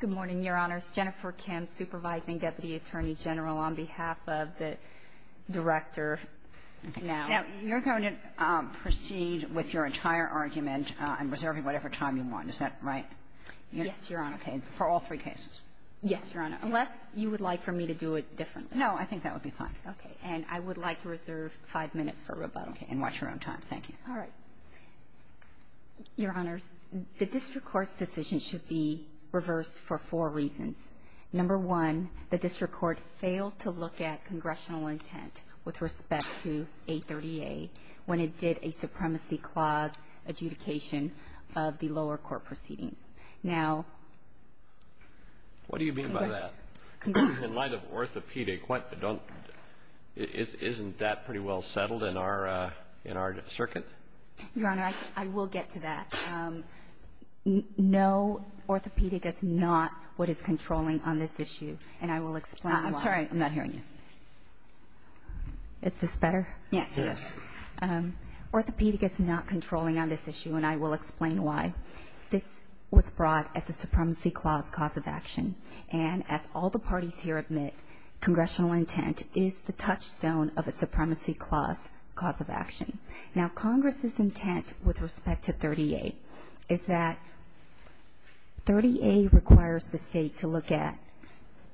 Good morning, Your Honors. Jennifer Kemp, Supervising Deputy Attorney General, on behalf of the Director. Now, you're going to proceed with your entire argument and reserve whatever time you want. Is that right? Yes, Your Honor. Okay. For all three cases? Yes, Your Honor. Unless you would like for me to do it differently. No, I think that would be fine. Okay. And I would like to reserve five minutes for rebuttal. Okay. And watch your own time. Thank you. All right. Your Honors, the District Court's decision should be reversed for four reasons. Number one, the District Court failed to look at congressional intent with respect to 830A when it did a Supremacy Clause adjudication of the lower court proceedings. What do you mean by that? In light of orthopedic, isn't that pretty well settled in our circuit? Your Honor, I will get to that. No, orthopedic is not what is controlling on this issue, and I will explain why. I'm sorry. I'm not hearing you. Is this better? Yes. Orthopedic is not controlling on this issue, and I will explain why. This was brought as a Supremacy Clause cause of action. And as all the parties here admit, congressional intent is the touchstone of a Supremacy Clause cause of action. Now, Congress's intent with respect to 30A is that 30A requires the state to look at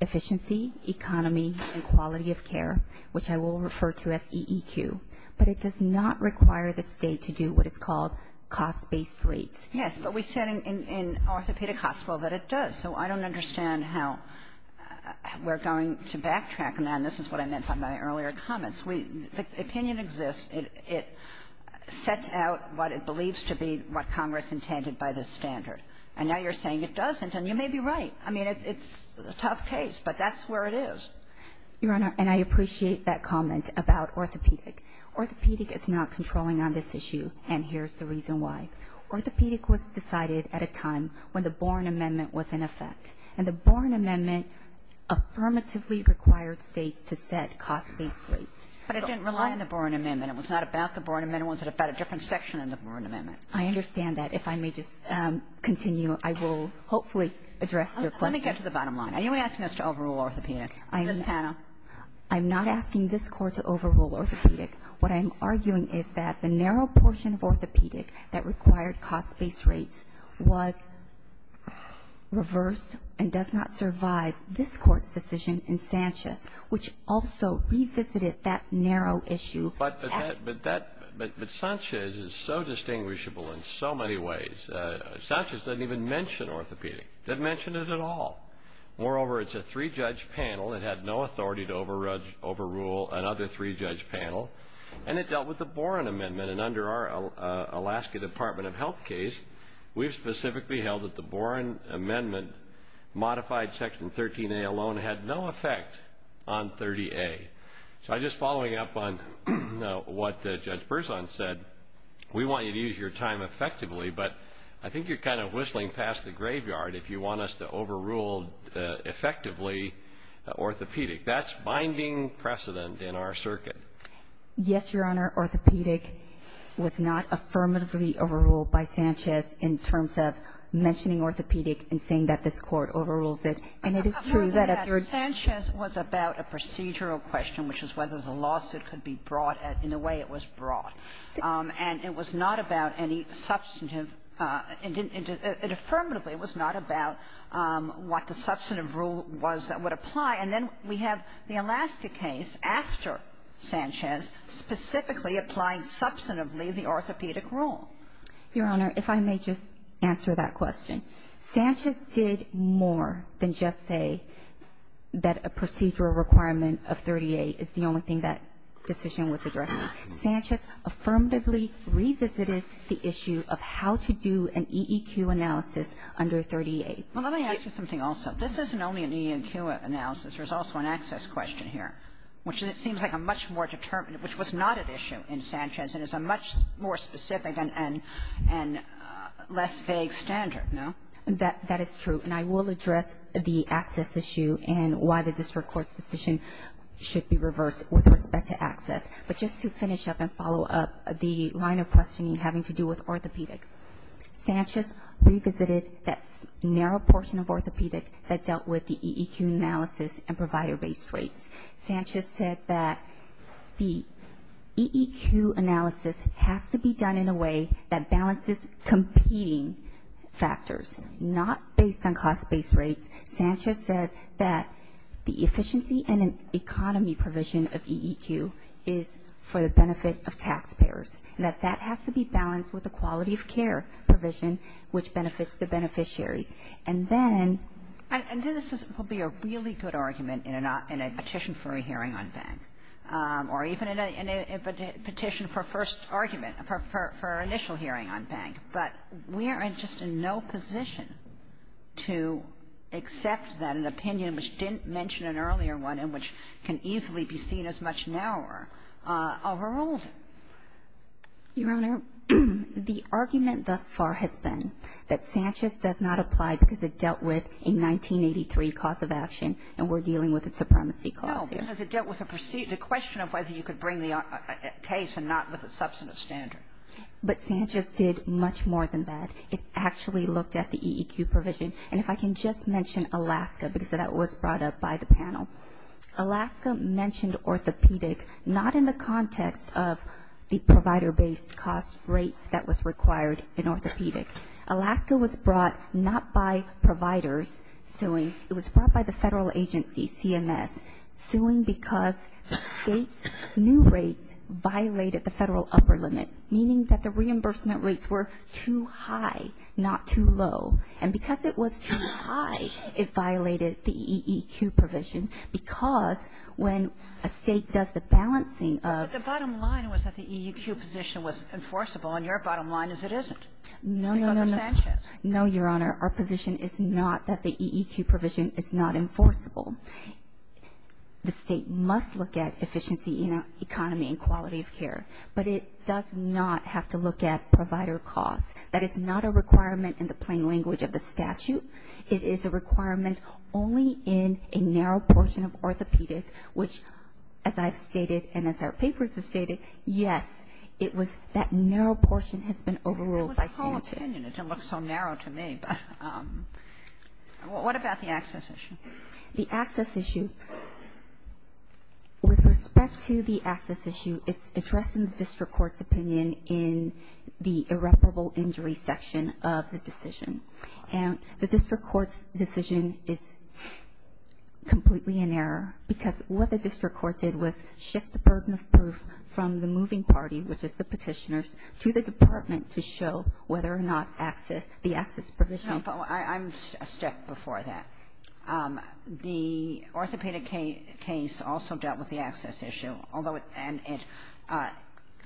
efficiency, economy, and quality of care, which I will refer to as EEQ. But it does not require the state to do what is called cost-based rates. Yes, but we said in orthopedic hospital that it does. So I don't understand how we're going to backtrack on that, and this is what I meant by my earlier comments. The opinion exists, and it sets out what it believes to be what Congress intended by this standard. And now you're saying it doesn't, and you may be right. I mean, it's a tough case, but that's where it is. Your Honor, and I appreciate that comment about orthopedic. Orthopedic is not controlling on this issue, and here's the reason why. Orthopedic was decided at a time when the Boren Amendment was in effect. And the Boren Amendment affirmatively required states to set cost-based rates. But it didn't rely on the Boren Amendment. It was not about the Boren Amendment. It was about a different section of the Boren Amendment. I understand that. If I may just continue, I will hopefully address your question. Let me get to the bottom line. Are you asking us to overrule orthopedics? Ms. Tana. I'm not asking this Court to overrule orthopedics. What I'm arguing is that the narrow portion of orthopedic that required cost-based rates was reversed and does not survive this Court's decision in Sanchez, which also revisited that narrow issue. But Sanchez is so distinguishable in so many ways. Sanchez doesn't even mention orthopedic, doesn't mention it at all. Moreover, it's a three-judge panel. It had no authority to overrule another three-judge panel. And it dealt with the Boren Amendment. And under our Alaska Department of Health case, we specifically held that the Boren Amendment modified Section 13A alone had no effect on 30A. So I'm just following up on what Judge Berzon said. We want you to use your time effectively, but I think you're kind of whistling past the graveyard. If you want us to overrule effectively orthopedic, that's binding precedent in our circuit. Yes, Your Honor. Orthopedic was not affirmatively overruled by Sanchez in terms of mentioning orthopedic and saying that this Court overrules it. And it is true that a third- Sanchez was about a procedural question, which was whether the lawsuit could be brought in the way it was brought. And it was not about any substantive. And affirmatively, it was not about what the substantive rule was that would apply. And then we have the Alaska case after Sanchez specifically applying substantively the orthopedic rule. Your Honor, if I may just answer that question. Sanchez did more than just say that a procedural requirement of 30A is the only thing that decision was addressed. Sanchez affirmatively revisited the issue of how to do an EEQ analysis under 30A. Well, let me ask you something also. This isn't only an EEQ analysis. There's also an access question here, which seems like a much more determined, which was not an issue in Sanchez and is a much more specific and less vague standard, no? That is true. And I will address the access issue and why the district court's decision should be reversed with respect to access. But just to finish up and follow up the line of questioning having to do with orthopedics, Sanchez revisited that narrow portion of orthopedics that dealt with the EEQ analysis and provided base rates. Sanchez said that the EEQ analysis has to be done in a way that balances competing factors, not based on cost-based rates. Sanchez said that the efficiency and economy provision of EEQ is for the benefit of taxpayers, and that that has to be balanced with the quality of care provision, which benefits the beneficiary. And then this would be a really good argument in a petition for a hearing on bank, or even in a petition for first argument for an initial hearing on bank. But we are just in no position to accept then an opinion which didn't mention an earlier one and which can easily be seen as much narrower overall. Your Honor, the argument thus far has been that Sanchez does not apply because it dealt with a 1983 cause of action and we're dealing with a supremacy clause here. No, because it dealt with the question of whether you could bring the case and not with a substantive standard. But Sanchez did much more than that. It actually looked at the EEQ provision. And if I can just mention Alaska because that was brought up by the panel. Alaska mentioned orthopedic not in the context of the provider-based cost rate that was required in orthopedic. Alaska was brought not by providers suing. It was brought by the federal agency, CMS, suing because state new rates violated the federal upper limit. Meaning that the reimbursement rates were too high, not too low. And because it was too high, it violated the EEQ provision because when a state does the balancing of- But the bottom line was that the EEQ position was enforceable, and your bottom line is it isn't. No, Your Honor, our position is not that the EEQ provision is not enforceable. The state must look at efficiency, economy, and quality of care. But it does not have to look at provider cost. That is not a requirement in the plain language of the statute. It is a requirement only in a narrow portion of orthopedics, which, as I've stated and as our papers have stated, yes, that narrow portion has been overruled by Sanchez. It's almost so narrow to me, but what about the access issue? The access issue. With respect to the access issue, it's addressed in the district court's opinion in the irreparable injury section of the decision. And the district court's decision is completely in error because what the district court did was shift the pertinent proof from the moving party, which is the petitioners, to the department to show whether or not the access provision- I'm a step before that. The orthopedic case also dealt with the access issue,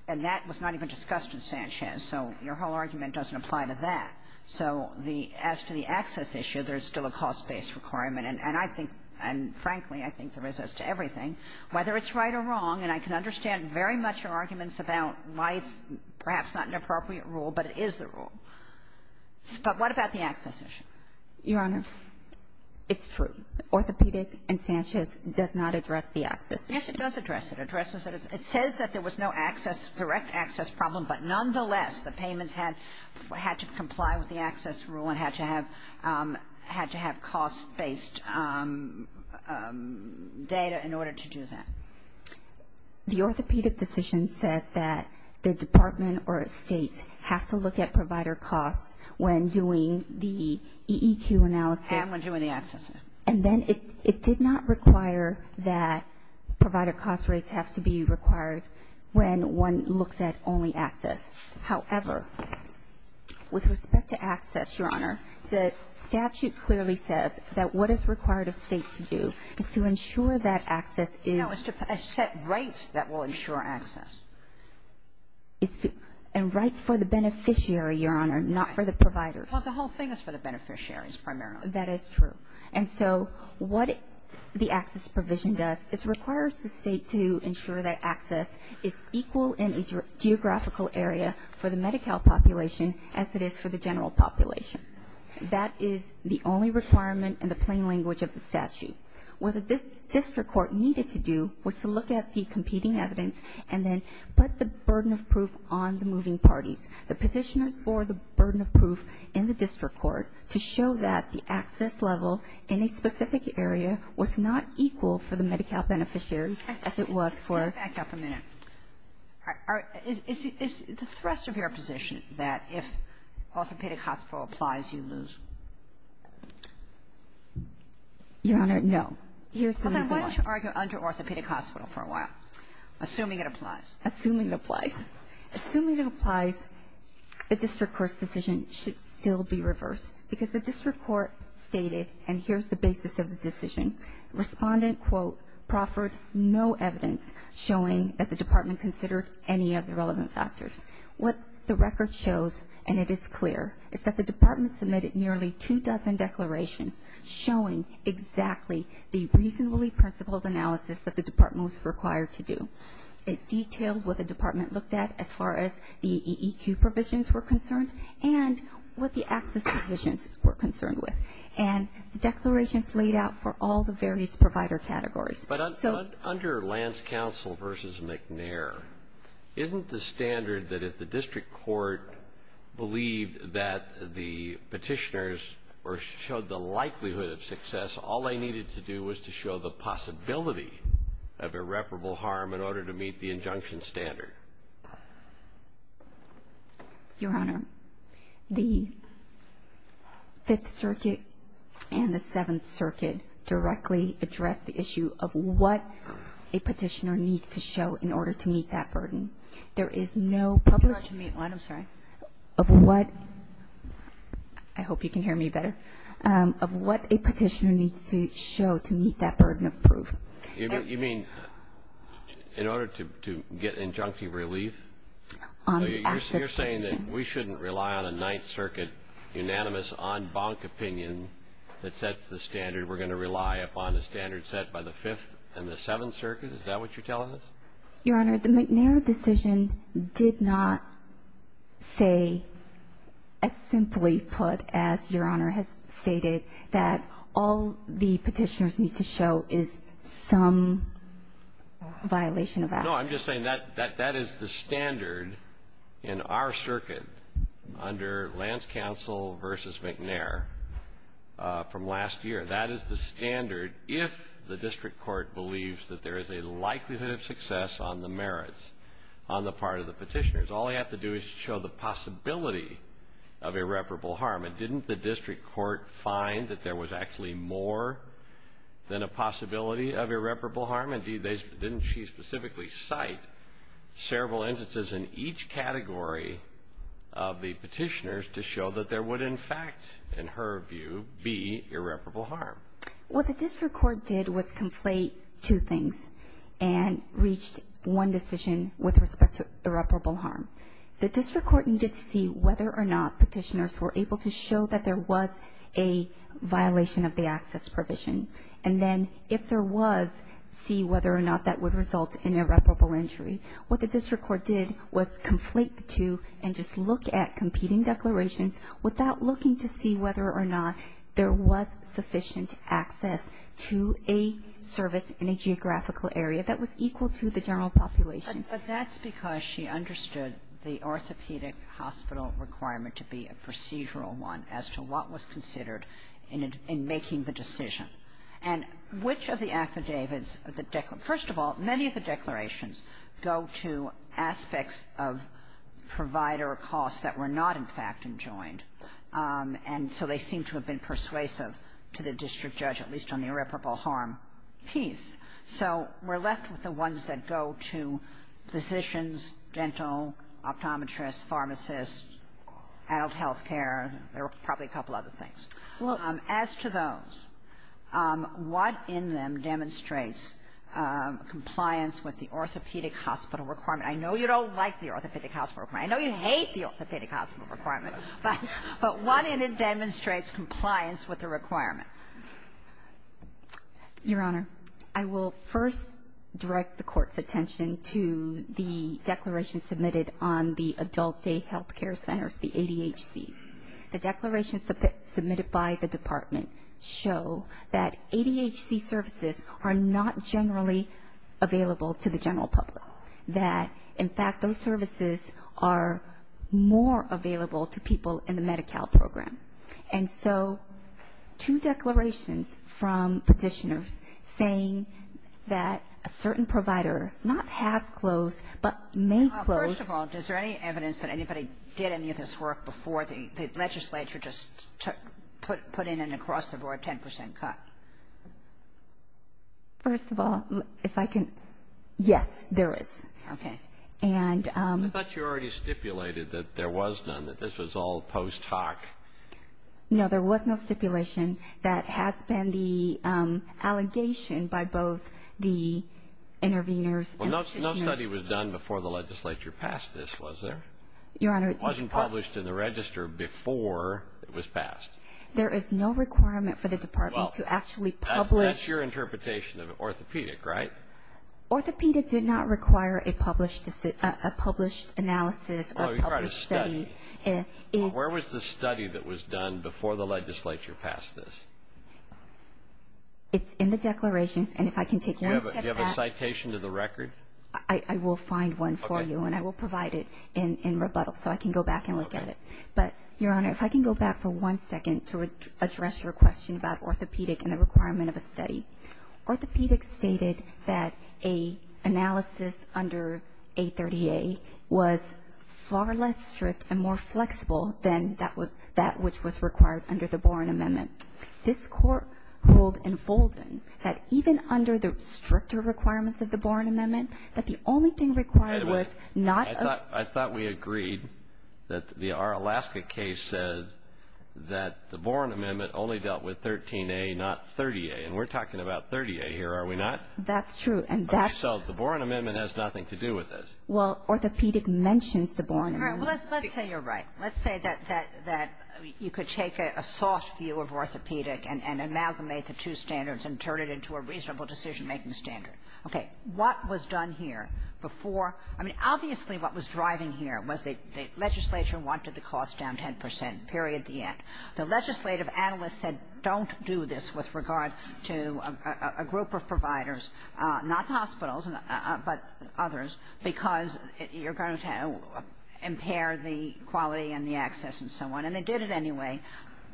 and that was not even discussed with Sanchez, so your whole argument doesn't apply to that. So as to the access issue, there's still a cost-based requirement, and frankly, I think there is as to everything. Whether it's right or wrong, and I can understand very much your arguments about why it's perhaps not an appropriate rule, but it is the rule. But what about the access issue? Your Honor, it's true. Orthopedic and Sanchez does not address the access issue. Yes, it does address it. It addresses it. It says that there was no direct access problem, but nonetheless, the payments had to comply with the access rule and had to have cost-based data in order to do that. The orthopedic decision said that the department or state has to look at provider costs when doing the EEQ analysis. Has when doing the access. And then it did not require that provider cost rates have to be required when one looks at only access. However, with respect to access, Your Honor, the statute clearly says that what it's required a state to do is to ensure that access- No, it's to set rates that will ensure access. And rates for the beneficiary, Your Honor, not for the provider. Well, the whole thing is for the beneficiaries primarily. That is true. And so what the access provision does, it requires the state to ensure that access is equal in a geographical area for the Medi-Cal population as it is for the general population. That is the only requirement in the plain language of the statute. What the district court needed to do was to look at the competing evidence and then put the burden of proof on the moving parties. The position for the burden of proof in the district court to show that the access level in a specific area was not equal for the Medi-Cal beneficiaries as it was for- Back up a minute. Is the thrust of your position that if orthopedic hospital applies, you lose? Your Honor, no. You're assuming- Okay, why don't you argue under orthopedic hospital for a while, assuming it applies? Assuming it applies. Assuming it applies, the district court's decision should still be reversed because the district court stated, and here's the basis of the decision, respondent, quote, proffered no evidence showing that the department considered any of the relevant factors. What the record shows, and it is clear, is that the department submitted nearly two dozen declarations showing exactly the reasonably principled analysis that the department was required to do. It details what the department looked at as far as the EEQ provisions were concerned and what the access provisions were concerned with. And the declarations laid out for all the various provider categories. But under Lance Counsel versus McNair, isn't the standard that if the district court believed that the petitioners showed the likelihood of success, all they needed to do was to show the possibility of irreparable harm in order to meet the injunction standard? Your Honor, the Fifth Circuit and the Seventh Circuit directly address the issue of what a petitioner needs to show in order to meet that burden. There is no public- You're not to mute, I'm sorry. Of what- I hope you can hear me better. Of what a petitioner needs to show to meet that burden of proof. You mean in order to get injunctive relief? Your Honor- You're saying that we shouldn't rely on a Ninth Circuit unanimous en banc opinion that sets the standard. We're going to rely upon the standard set by the Fifth and the Seventh Circuit? Is that what you're telling us? Your Honor, the McNair decision did not say, as simply put as Your Honor has stated, that all the petitioners need to show is some violation of- No, I'm just saying that is the standard in our circuit under Lance Counsel versus McNair from last year. That is the standard if the district court believes that there is a likelihood of success on the merits on the part of the petitioners. All they have to do is show the possibility of irreparable harm. Didn't the district court find that there was actually more than a possibility of irreparable harm? Didn't she specifically cite several instances in each category of the petitioners to show that there would in fact, in her view, be irreparable harm? What the district court did was conflate two things and reached one decision with respect to irreparable harm. The district court needed to see whether or not petitioners were able to show that there was a violation of the access provision. And then if there was, see whether or not that would result in irreparable injury. What the district court did was conflate the two and just look at competing declarations without looking to see whether or not there was sufficient access to a service in a geographical area that was equal to the general population. But that's because she understood the orthopedic hospital requirement to be a procedural one as to what was considered in making the decision. And which of the affidavits, first of all, many of the declarations go to aspects of provider costs that were not in fact enjoined. And so they seem to have been persuasive to the district judge, at least on the irreparable harm piece. So we're left with the ones that go to physicians, dental, optometrists, pharmacists, adult health care. There are probably a couple other things. As to those, what in them demonstrates compliance with the orthopedic hospital requirement? I know you don't like the orthopedic hospital requirement. I know you hate the orthopedic hospital requirement. But what in it demonstrates compliance with the requirement? Your Honor, I will first direct the Court's attention to the declaration submitted on the Adult Day Healthcare Center, the ADHC. The declaration submitted by the Department show that ADHC services are not generally available to the general public. That, in fact, those services are more available to people in the Medi-Cal program. And so two declarations from petitioners saying that a certain provider not have closed but may close. First of all, is there any evidence that anybody did any of this work before the legislature just put in an across-the-board 10 percent cut? First of all, if I can. Yes, there is. Okay. No, there was no stipulation. That has been the allegation by both the interveners and petitioners. Well, no study was done before the legislature passed this, was there? Your Honor. It wasn't published in the register before it was passed. There is no requirement for the Department to actually publish. Well, that's your interpretation of orthopedic, right? Orthopedic did not require a published analysis or published study. Oh, you wrote a study. Where was the study that was done before the legislature passed this? It's in the declaration. And if I can take your answer to that. Do you have a citation to the record? I will find one for you. Okay. And I will provide it in rebuttal so I can go back and look at it. Okay. But, Your Honor, if I can go back for one second to address your question about orthopedic and the requirement of a study. Orthopedic stated that an analysis under 830A was far less strict and more flexible than that which was required under the Boren Amendment. This Court hold enfolding that even under the stricter requirements of the Boren Amendment, that the only thing required was not a... I thought we agreed that our Alaska case said that the Boren Amendment only dealt with 13A, not 30A. And we're talking about 30A here, are we not? That's true. So, the Boren Amendment has nothing to do with it. Well, orthopedic mentions the Boren Amendment. Let's say you're right. Let's say that you could take a soft view of orthopedic and amalgamate the two standards and turn it into a reasonable decision-making standard. Okay. What was done here before... I mean, obviously, what was driving here was the legislature wanted to cost down 10 percent, period, the end. The legislative analyst said, don't do this with regard to a group of providers, not hospitals, but others, because you're going to impair the quality and the access and so on. And they did it anyway.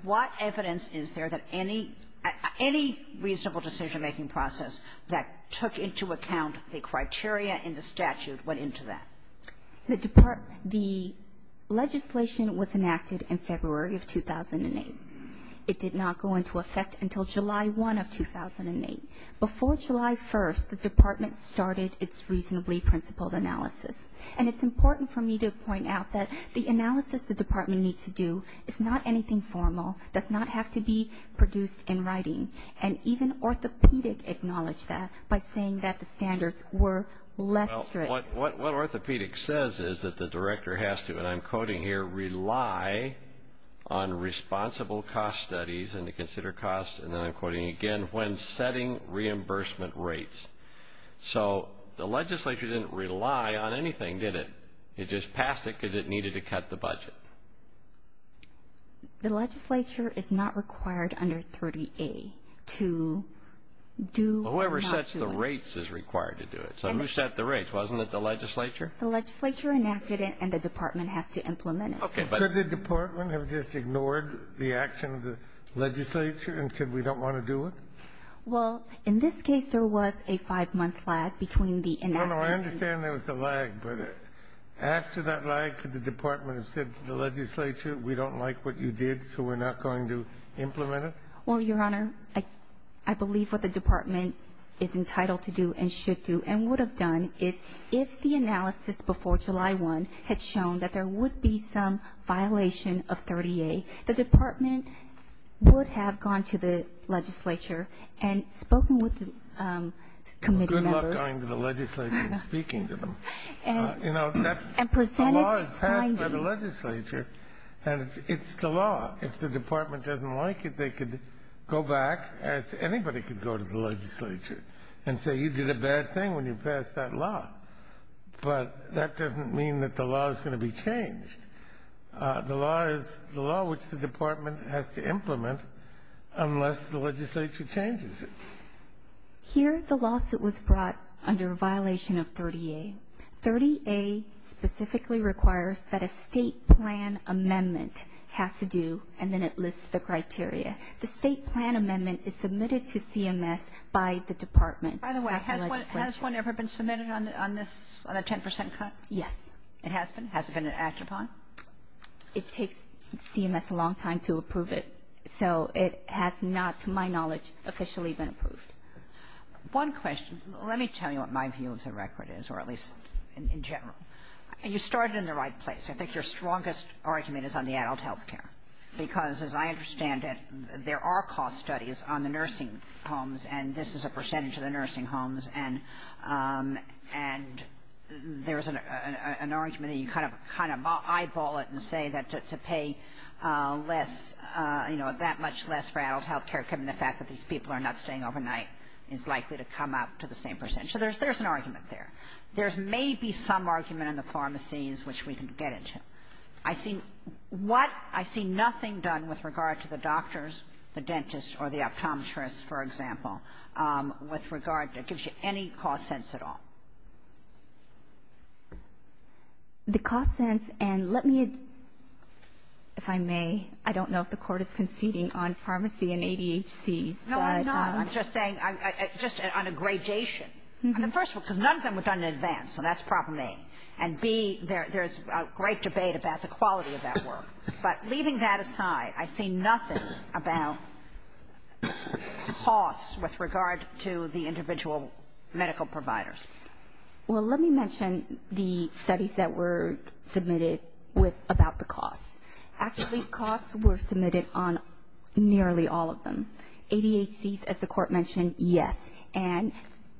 What evidence is there that any reasonable decision-making process that took into account the criteria in the statute went into that? The legislation was enacted in February of 2008. It did not go into effect until July 1 of 2008. Before July 1, the department started its reasonably principled analysis. And it's important for me to point out that the analysis the department needs to do is not anything formal, does not have to be produced in writing. And even orthopedic acknowledged that by saying that the standards were less strict. Well, what orthopedic says is that the director has to, and I'm quoting here, rely on responsible cost studies and to consider costs. And then I'm quoting again, when setting reimbursement rates. So the legislature didn't rely on anything, did it? It just passed it because it needed to cut the budget. The legislature is not required under 30A to do or not to. Whoever sets the rates is required to do it. So who set the rates? Wasn't it the legislature? The legislature enacted it, and the department has to implement it. Could the department have just ignored the action of the legislature and said, we don't want to do it? Well, in this case, there was a five-month lag between the enactment. No, no, I understand there was a lag. But after that lag, could the department have said to the legislature, we don't like what you did, so we're not going to implement it? Well, Your Honor, I believe what the department is entitled to do and should do. And would have done is if the analysis before July 1 had shown that there would be some violation of 30A, the department would have gone to the legislature and spoken with the committee members. Good luck going to the legislature and speaking to them. You know, the law is passed by the legislature, and it's the law. If the department doesn't like it, they could go back. Anybody could go to the legislature and say, you did a bad thing when you passed that law. But that doesn't mean that the law is going to be changed. The law is the law which the department has to implement unless the legislature changes it. Here, the lawsuit was brought under a violation of 30A. 30A specifically requires that a state plan amendment has to do, and then it lists the criteria. The state plan amendment is submitted to CMS by the department. By the way, has one ever been submitted on this, on a 10% cut? Yes. It has been? Has it been acted on? It takes CMS a long time to approve it. So it has not, to my knowledge, officially been approved. One question. Let me tell you what my view of the record is, or at least in general. You started in the right place. I think your strongest argument is on the adult health care. Because, as I understand it, there are cost studies on the nursing homes, and this is a percentage of the nursing homes. And there's an argument that you kind of eyeball it and say that to pay less, you know, that much less for adult health care, given the fact that these people are not staying overnight, is likely to come out to the same percentage. So there's an argument there. There's maybe some argument in the pharmacies, which we can get into. I've seen nothing done with regard to the doctors, the dentists, or the optometrists, for example, with regard that gives you any cost sense at all. The cost sense, and let me, if I may, I don't know if the Court is conceding on pharmacy and ADHD. No, I'm not. I'm just saying, just on a gradation. First of all, because none of them was done in advance, so that's problem A. And B, there's a great debate about the quality of that work. But leaving that aside, I see nothing about costs with regard to the individual medical providers. Well, let me mention the studies that were submitted about the costs. Actually, costs were submitted on nearly all of them. ADHD, as the Court mentioned, yes. Not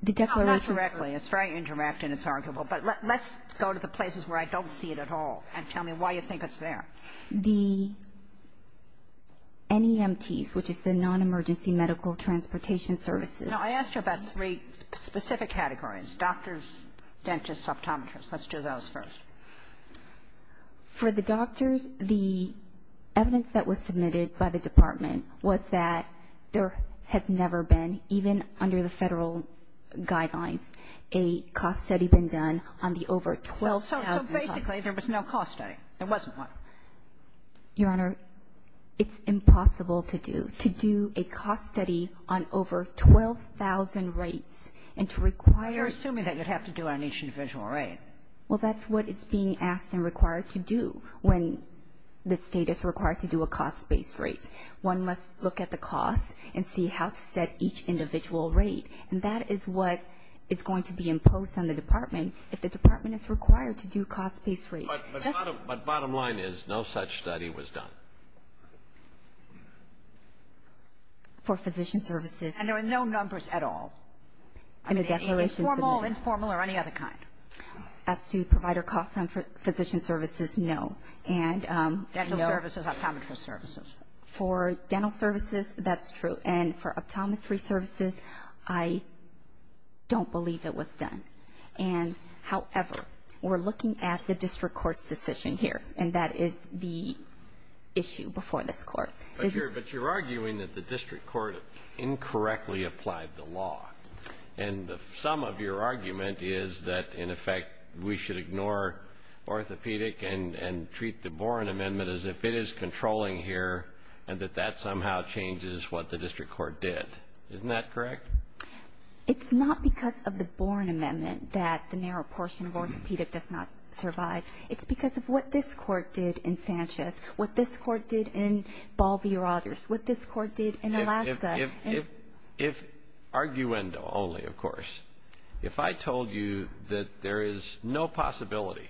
directly. It's very indirect and it's arguable. But let's go to the places where I don't see it at all and tell me why you think it's there. The NEMTs, which is the non-emergency medical transportation services. Now, I asked you about three specific categories, doctors, dentists, optometrists. Let's do those first. For the doctors, the evidence that was submitted by the Department was that there has never been, even under the federal guidelines, a cost study been done on the over 12,000 costs. So basically, there was no cost study. There wasn't one. Your Honor, it's impossible to do. To do a cost study on over 12,000 rates and to require – You're assuming that you'd have to do it on each individual rate. Well, that's what is being asked and required to do when the state is required to do a cost-based rate. One must look at the cost and see how to set each individual rate. And that is what is going to be imposed on the Department if the Department is required to do cost-based rates. But bottom line is no such study was done. For physician services. And there were no numbers at all? Informal, informal, or any other kind? As to provider costs on physician services, no. Dental services, optometry services. For dental services, that's true. And for optometry services, I don't believe it was done. And, however, we're looking at the district court's decision here, and that is the issue before this Court. But you're arguing that the district court incorrectly applied the law. And the sum of your argument is that, in effect, we should ignore orthopedic and treat the Boren Amendment as if it is controlling here and that that somehow changes what the district court did. Isn't that correct? It's not because of the Boren Amendment that the narrow portion of orthopedic does not survive. It's because of what this court did in Sanchez, what this court did in Baldy Rogers, what this court did in Alaska. If, arguendo only, of course, if I told you that there is no possibility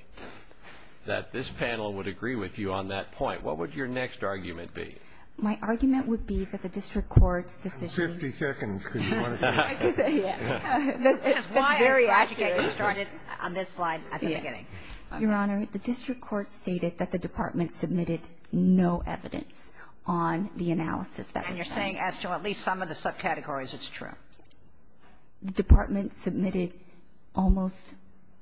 that this panel would agree with you on that point, what would your next argument be? My argument would be that the district court's decision. Fifty seconds, because you want to talk. Yes. It's very accurate. It started on this slide at the beginning. Your Honor, the district court stated that the department submitted no evidence on the analysis that was done. And you're saying as to at least some of the subcategories it's true. The department submitted almost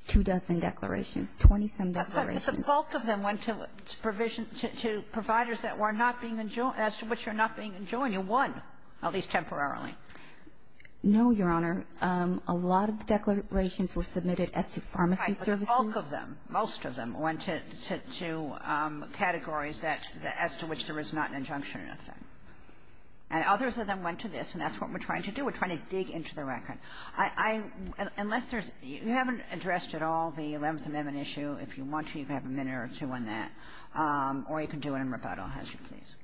two dozen declarations, 20-some declarations. But the bulk of them went to providers that were not being enjoined, as to which were not being enjoined. You won, at least temporarily. No, Your Honor. A lot of the declarations were submitted at the pharmacy services. The bulk of them, most of them, went to categories as to which there was not an injunction in effect. And others of them went to this, and that's what we're trying to do. We're trying to dig into the record. Unless there's – you haven't addressed at all the 11th Amendment issue. If you want to, you can have a minute or two on that. Or you can do it in rebuttal, as you please.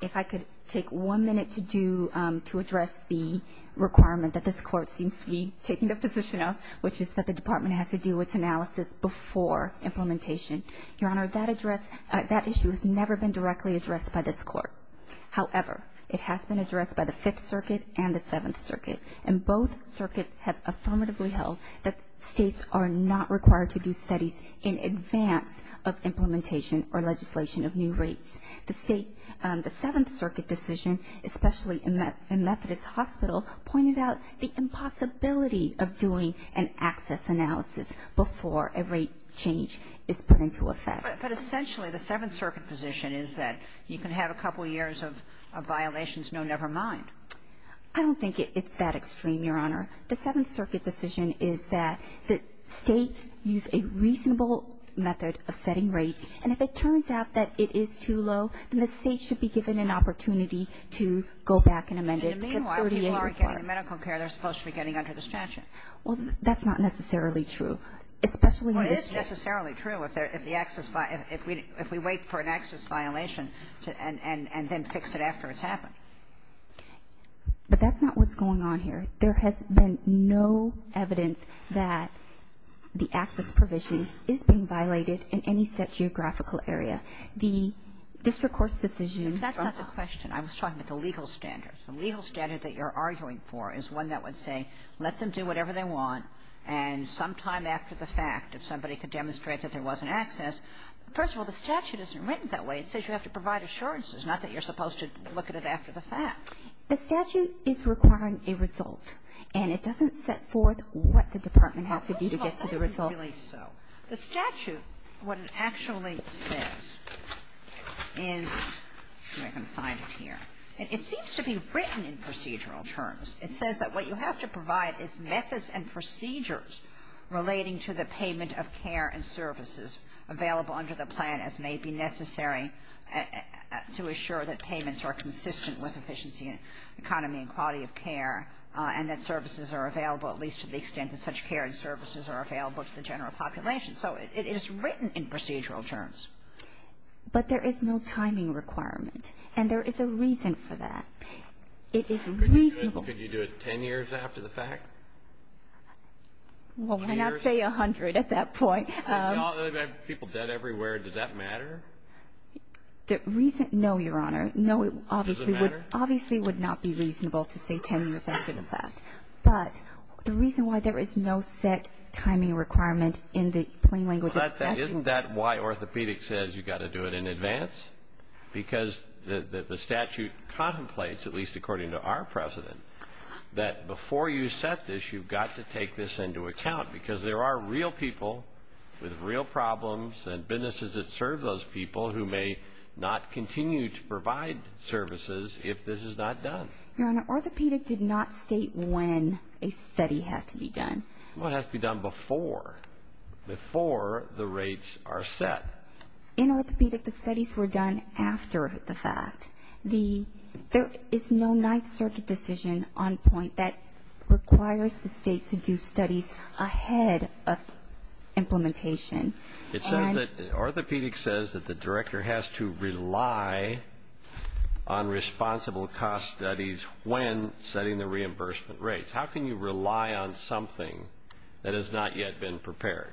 If I could take one minute to do – to address the requirement that this court seems to be taking a position on, which is that the department has to do its analysis before implementation. Your Honor, that issue has never been directly addressed by this court. However, it has been addressed by the Fifth Circuit and the Seventh Circuit. And both circuits have affirmatively held that states are not required to do studies in advance of implementation or legislation of new rates. The Seventh Circuit decision, especially in Methodist Hospital, pointed out the impossibility of doing an access analysis before a rate change is put into effect. But essentially, the Seventh Circuit position is that you can have a couple years of violations, no never mind. I don't think it's that extreme, Your Honor. The Seventh Circuit decision is that states use a reasonable method of setting rates. And if it turns out that it is too low, then the state should be given an opportunity to go back and amend it. Meanwhile, people are getting medical care they're supposed to be getting under the statute. Well, that's not necessarily true. Well, it is necessarily true if we wait for an access violation and then fix it after it's happened. But that's not what's going on here. There has been no evidence that the access provision is being violated in any set geographical area. The district court's decision... That's not the question. I was talking about the legal standards. The legal standard that you're arguing for is one that would say, let them do whatever they want. And sometime after the fact, if somebody could demonstrate that there wasn't access... First of all, the statute isn't written that way. It says you have to provide assurances, not that you're supposed to look at it after the fact. The statute is requiring a result. And it doesn't set forth what the department has to do to get to the result. The statute, what it actually says is... Let me see if I can find it here. It seems to be written in procedural terms. It says that what you have to provide is methods and procedures relating to the payment of care and services available under the plan as may be necessary to assure that payments are consistent with efficiency and economy and quality of care and that services are available, at least to the extent that such care and services are available to the general population. So it is written in procedural terms. But there is no timing requirement. And there is a reason for that. It is reasonable... Could you do it 10 years after the fact? Well, why not say 100 at that point? Imagine people dead everywhere. Does that matter? The reason... No, Your Honor. Does it matter? No, obviously it would not be reasonable to say 10 years after the fact. But the reason why there is no set timing requirement in the plain language... Isn't that why orthopedics says you've got to do it in advance? Because the statute contemplates, at least according to our President, that before you set this, you've got to take this into account. Because there are real people with real problems and businesses that serve those people who may not continue to provide services if this is not done. Your Honor, orthopedics did not state when a study has to be done. Well, it has to be done before. Before the rates are set. In orthopedics, the studies were done after the fact. There is no Ninth Circuit decision on point that requires the state to do studies ahead of implementation. It says that orthopedics says that the director has to rely on responsible cost studies when setting the reimbursement rates. How can you rely on something that has not yet been prepared?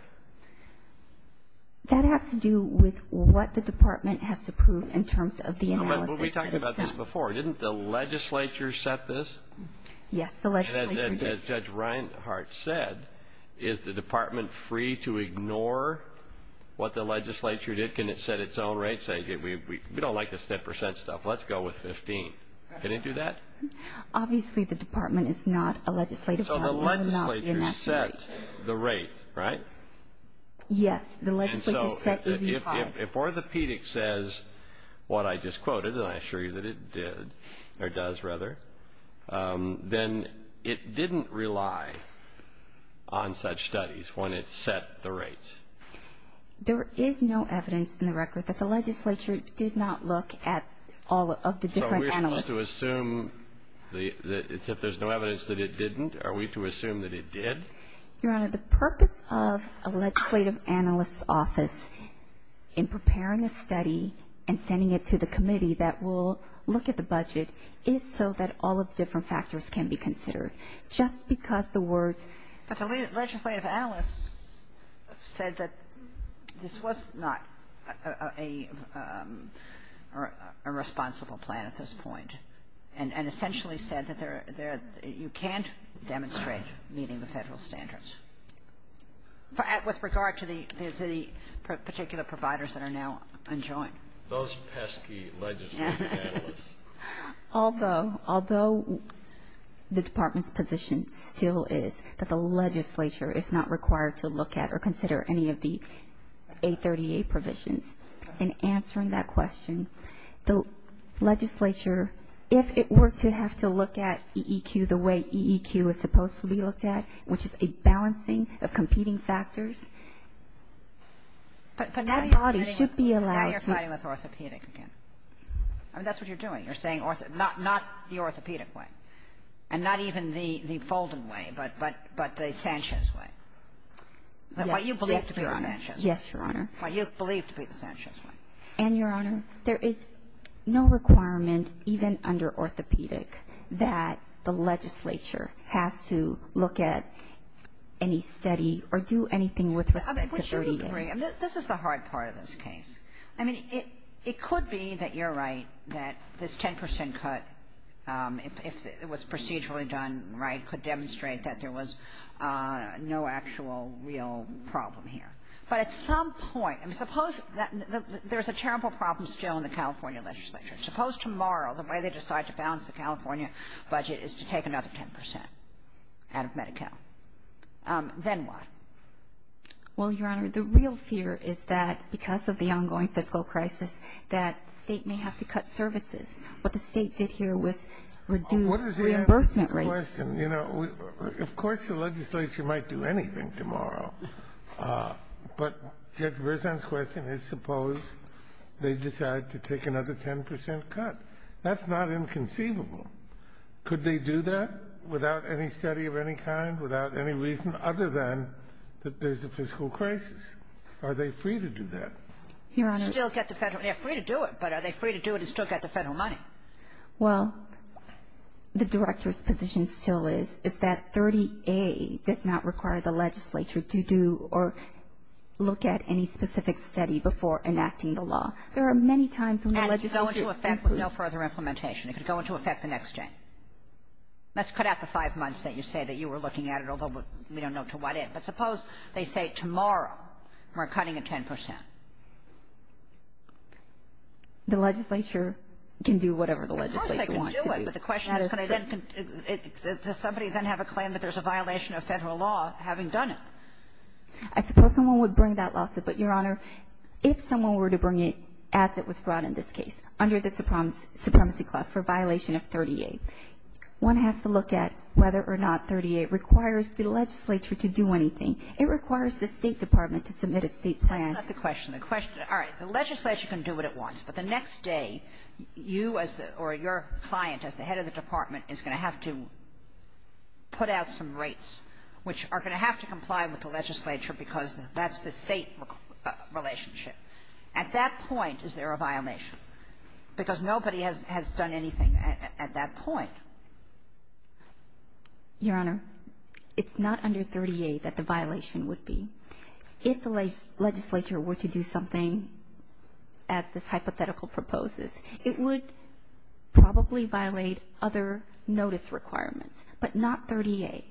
That has to do with what the department has to prove in terms of the analysis. We talked about this before. Didn't the legislature set this? Yes, the legislature did. As Judge Reinhart said, is the department free to ignore what the legislature did? Can it set its own rates? We don't like to set percent stuff. Let's go with 15. Can it do that? Obviously, the department is not a legislative... So, the legislature set the rate, right? Yes. And so, if orthopedics says what I just quoted, and I assure you that it did, or does rather, then it didn't rely on such studies when it set the rates. There is no evidence in the record that the legislature did not look at all of the different... Are we to assume that there's no evidence that it didn't? Are we to assume that it did? Your Honor, the purpose of a legislative analyst's office in preparing the study and sending it to the committee that will look at the budget is so that all of the different factors can be considered. Just because the words... But the legislative analyst said that this was not a responsible plan at this point, and essentially said that you can't demonstrate meeting the federal standards, with regard to the particular providers that are now enjoined. Those pesky legislative analysts. Although the department's position still is that the legislature is not required to look at or consider any of the A38 provisions, in answering that question, the legislature, if it were to have to look at EEQ the way EEQ is supposed to be looked at, which is a balancing of competing factors... But not your study with orthopedics. I mean, that's what you're doing. You're saying not the orthopedic way, and not even the Folden way, but the Sanchez way. What you believe to be the Sanchez way. Yes, Your Honor. What you believe to be the Sanchez way. And, Your Honor, there is no requirement, even under orthopedic, that the legislature have to look at any study or do anything with the A38. This is the hard part of this case. I mean, it could be that you're right, that this 10% cut, if it was procedurally done right, could demonstrate that there was no actual real problem here. But at some point, suppose there's a terrible problem still in the California legislature. Suppose tomorrow the way they decide to balance the California budget is to take another 10% out of Medi-Cal. Then what? Well, Your Honor, the real fear is that, because of the ongoing fiscal crisis, that the state may have to cut services. What the state did here was reduce reimbursement rates. What is the answer to your question? You know, of course the legislature might do anything tomorrow. But Judge Verzan's question is suppose they decide to take another 10% cut. That's not inconceivable. Could they do that without any study of any kind, without any reason other than that there's a fiscal crisis? Are they free to do that? They're free to do it, but are they free to do it and still get the federal money? Well, the Director's position still is that 30A does not require the legislature to do or look at any specific study before enacting the law. There are many times when the legislature can do that. No further implementation. It can go into effect the next day. Let's cut out the five months that you say that you were looking at it, although we don't know to what end. But suppose they say tomorrow we're cutting it 10%. The legislature can do whatever the legislature wants. Of course they can do it, but the question is, does somebody then have a claim that there's a violation of federal law having done it? I suppose someone would bring that lawsuit, but, Your Honor, if someone were to bring it as it was brought in this case under the Supremacy Clause for a violation of 30A, one has to look at whether or not 30A requires the legislature to do anything. It requires the State Department to submit a state plan. Let's cut the question. All right, the legislature can do what it wants, but the next day you or your client as the head of the department is going to have to put out some rates, which are going to have to comply with the legislature because that's the state relationship. At that point, is there a violation? Because nobody has done anything at that point. Your Honor, it's not under 30A that the violation would be. If the legislature were to do something as this hypothetical proposes, it would probably violate other notice requirements, but not 30A.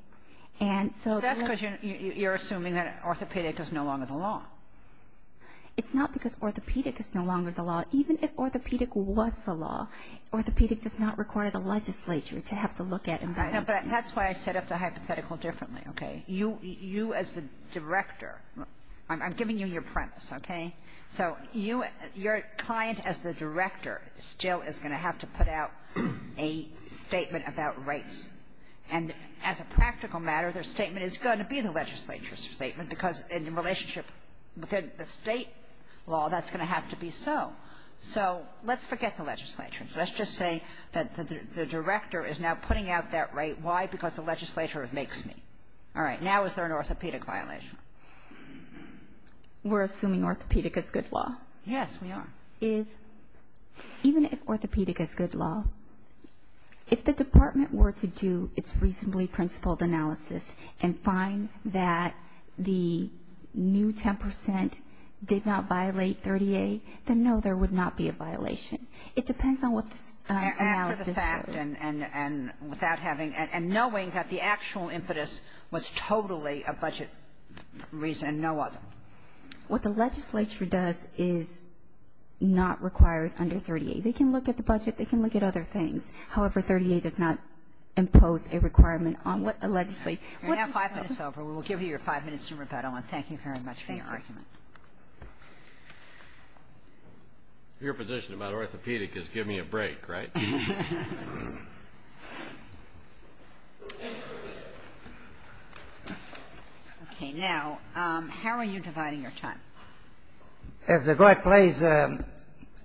That's because you're assuming that orthopedic is no longer the law. It's not because orthopedic is no longer the law. Even if orthopedic was the law, orthopedic does not require the legislature to have to look at it. That's why I set up the hypothetical differently, okay? You as the director, I'm giving you your premise, okay? So your client as the director still is going to have to put out a statement about rates. And as a practical matter, their statement is going to be the legislature's statement because in the relationship within the state law, that's going to have to be so. So let's forget the legislature. Let's just say that the director is now putting out that rate. Why? Because the legislature makes it. All right, now is there an orthopedic violation? We're assuming orthopedic is good law. Yes, we are. Even if orthopedic is good law, if the department were to do its reasonably principled analysis and find that the new 10% did not violate 30A, then no, there would not be a violation. It depends on what analysis is. After the fact and without having and knowing that the actual impetus was totally a budget reason and no other. What the legislature does is not require under 30A. They can look at the budget. They can look at other things. However, 30A does not impose a requirement on what the legislature... We're now five minutes over. We will give you your five minutes to rebuttal, and thank you very much for your questions. Your position about orthopedic is give me a break, right? Thank you. Okay, now, how are you dividing your time? If the court please, I'm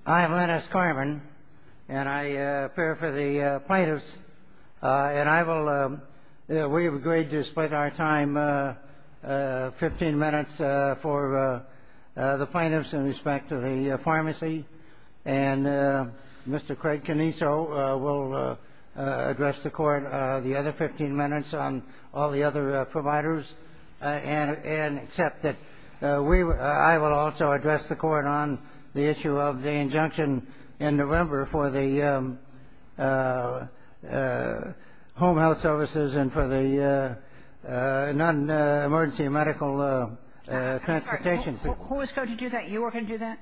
Lennox Carmen, and I appear for the plaintiffs, and we have agreed to split our time 15 minutes for the plaintiffs in respect to the pharmacy, and Mr. Craig Caniso will address the court the other 15 minutes on all the other providers and accept that I will also address the court on the issue of the injunction in November for the home health services and for the non-emergency medical transportation. Who was going to do that? You were going to do that?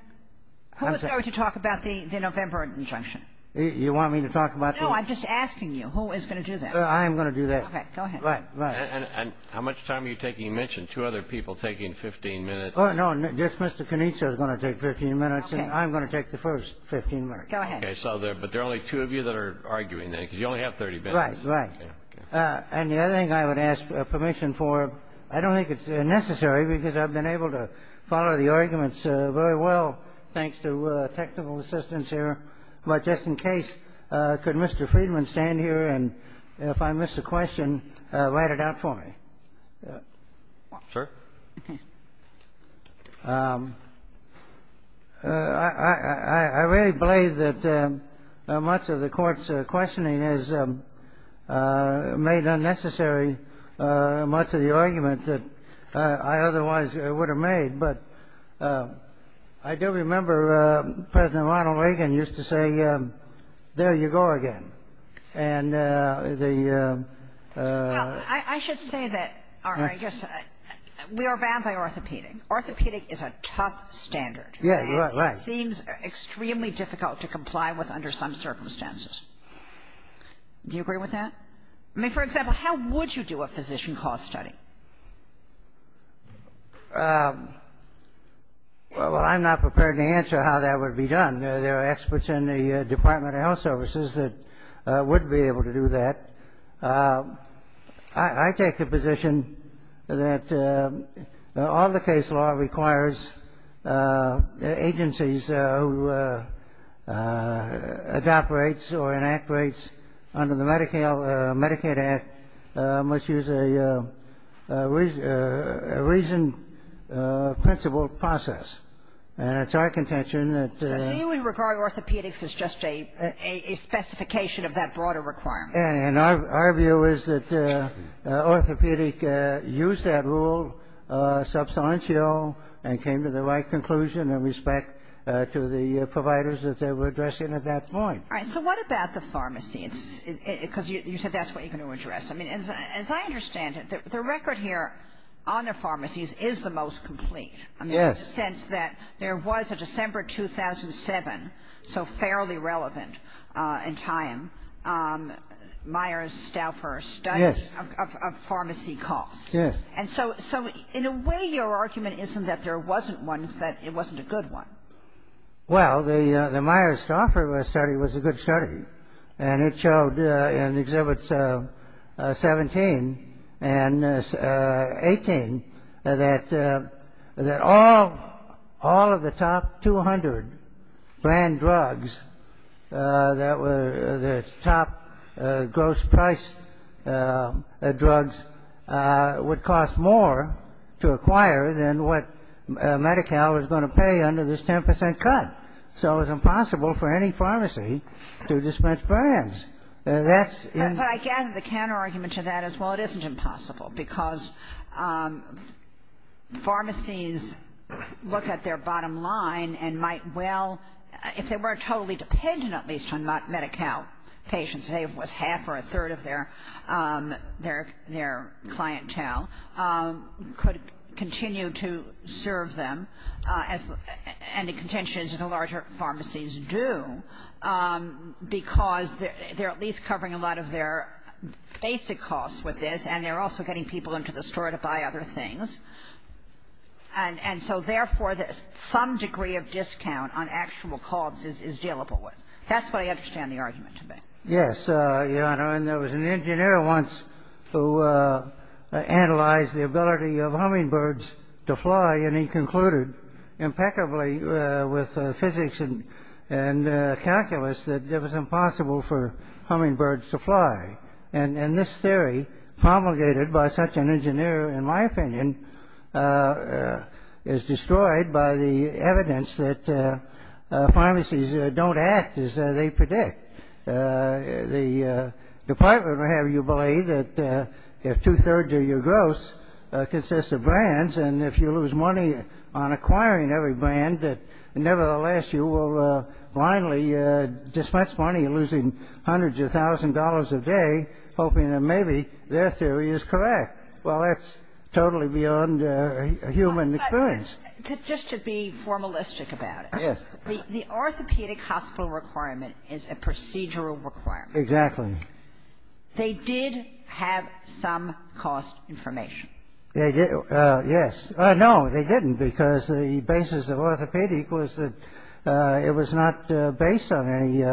Who was going to talk about the November injunction? You want me to talk about that? No, I'm just asking you, who is going to do that? I am going to do that. Okay, go ahead. Right, right. And how much time are you taking? You mentioned two other people taking 15 minutes. Oh, no, just Mr. Caniso is going to take 15 minutes, and I'm going to take the first 15 minutes. Go ahead. Okay, but there are only two of you that are arguing that, because you only have 30 minutes. Right, right. And the other thing I would ask permission for, I don't think it's necessary, because I've been able to follow the arguments very well, thanks to technical assistance here. But just in case, could Mr. Friedman stand here, and if I miss a question, write it out for me. Sure. I really believe that much of the court's questioning has made unnecessary much of the argument that I otherwise would have made. But I do remember President Ronald Reagan used to say, there you go again. I should say that we are banned by orthopedic. Orthopedic is a top standard. Yeah, right, right. It seems extremely difficult to comply with under some circumstances. Do you agree with that? I mean, for example, how would you do a physician cost study? Well, I'm not prepared to answer how that would be done. There are experts in the Department of Health Services that would be able to do that. I take the position that all the case law requires agencies who adopt rates or enact rates under the Medicaid Act must use a reasoned, principled process. And it's our contention that So you would regard orthopedics as just a specification of that broader requirement. And our view is that orthopedic used that rule substantial and came to the right conclusion in respect to the providers that they were addressing at that point. All right. So what about the pharmacies? Because you said that's what you're going to address. I mean, as I understand it, the record here on the pharmacies is the most complete. Yes. In the sense that there was a December 2007, so fairly relevant in time, Myers-Stauffer study of pharmacy costs. Yes. And so in a way your argument isn't that there wasn't one, it's that it wasn't a good one. Well, the Myers-Stauffer study was a good study. And it showed in Exhibits 17 and 18 that all of the top 200 brand drugs that were the top gross price drugs would cost more to acquire than what Medi-Cal was going to pay under this 10 percent cut. So it was impossible for any pharmacy to dispense brands. But I gather the counter argument to that is, well, it isn't impossible because pharmacies look at their bottom line and might well, if they weren't totally dependent at least on Medi-Cal patients, maybe with half or a third of their clientele could continue to serve them and the contentions of the larger pharmacies do because they're at least covering a lot of their basic costs with this and they're also getting people into the store to buy other things. And so therefore some degree of discount on actual costs is dealable with. That's what I understand the argument to be. Yes, Your Honor. There was an engineer once who analyzed the ability of hummingbirds to fly and he concluded impeccably with physics and calculus that it was impossible for hummingbirds to fly. And this theory promulgated by such an engineer, in my opinion, is destroyed by the evidence that pharmacies don't act as they predict. The department will have you believe that two-thirds of your gross consists of brands and if you lose money on acquiring every brand, nevertheless you will blindly dispense money losing hundreds of thousands of dollars a day hoping that maybe their theory is correct. Well, that's totally beyond human experience. Just to be formalistic about it. Yes. The orthopedic hospital requirement is a procedural requirement. Exactly. They did have some cost information. Yes. No, they didn't because the basis of orthopedic was that it was not based on any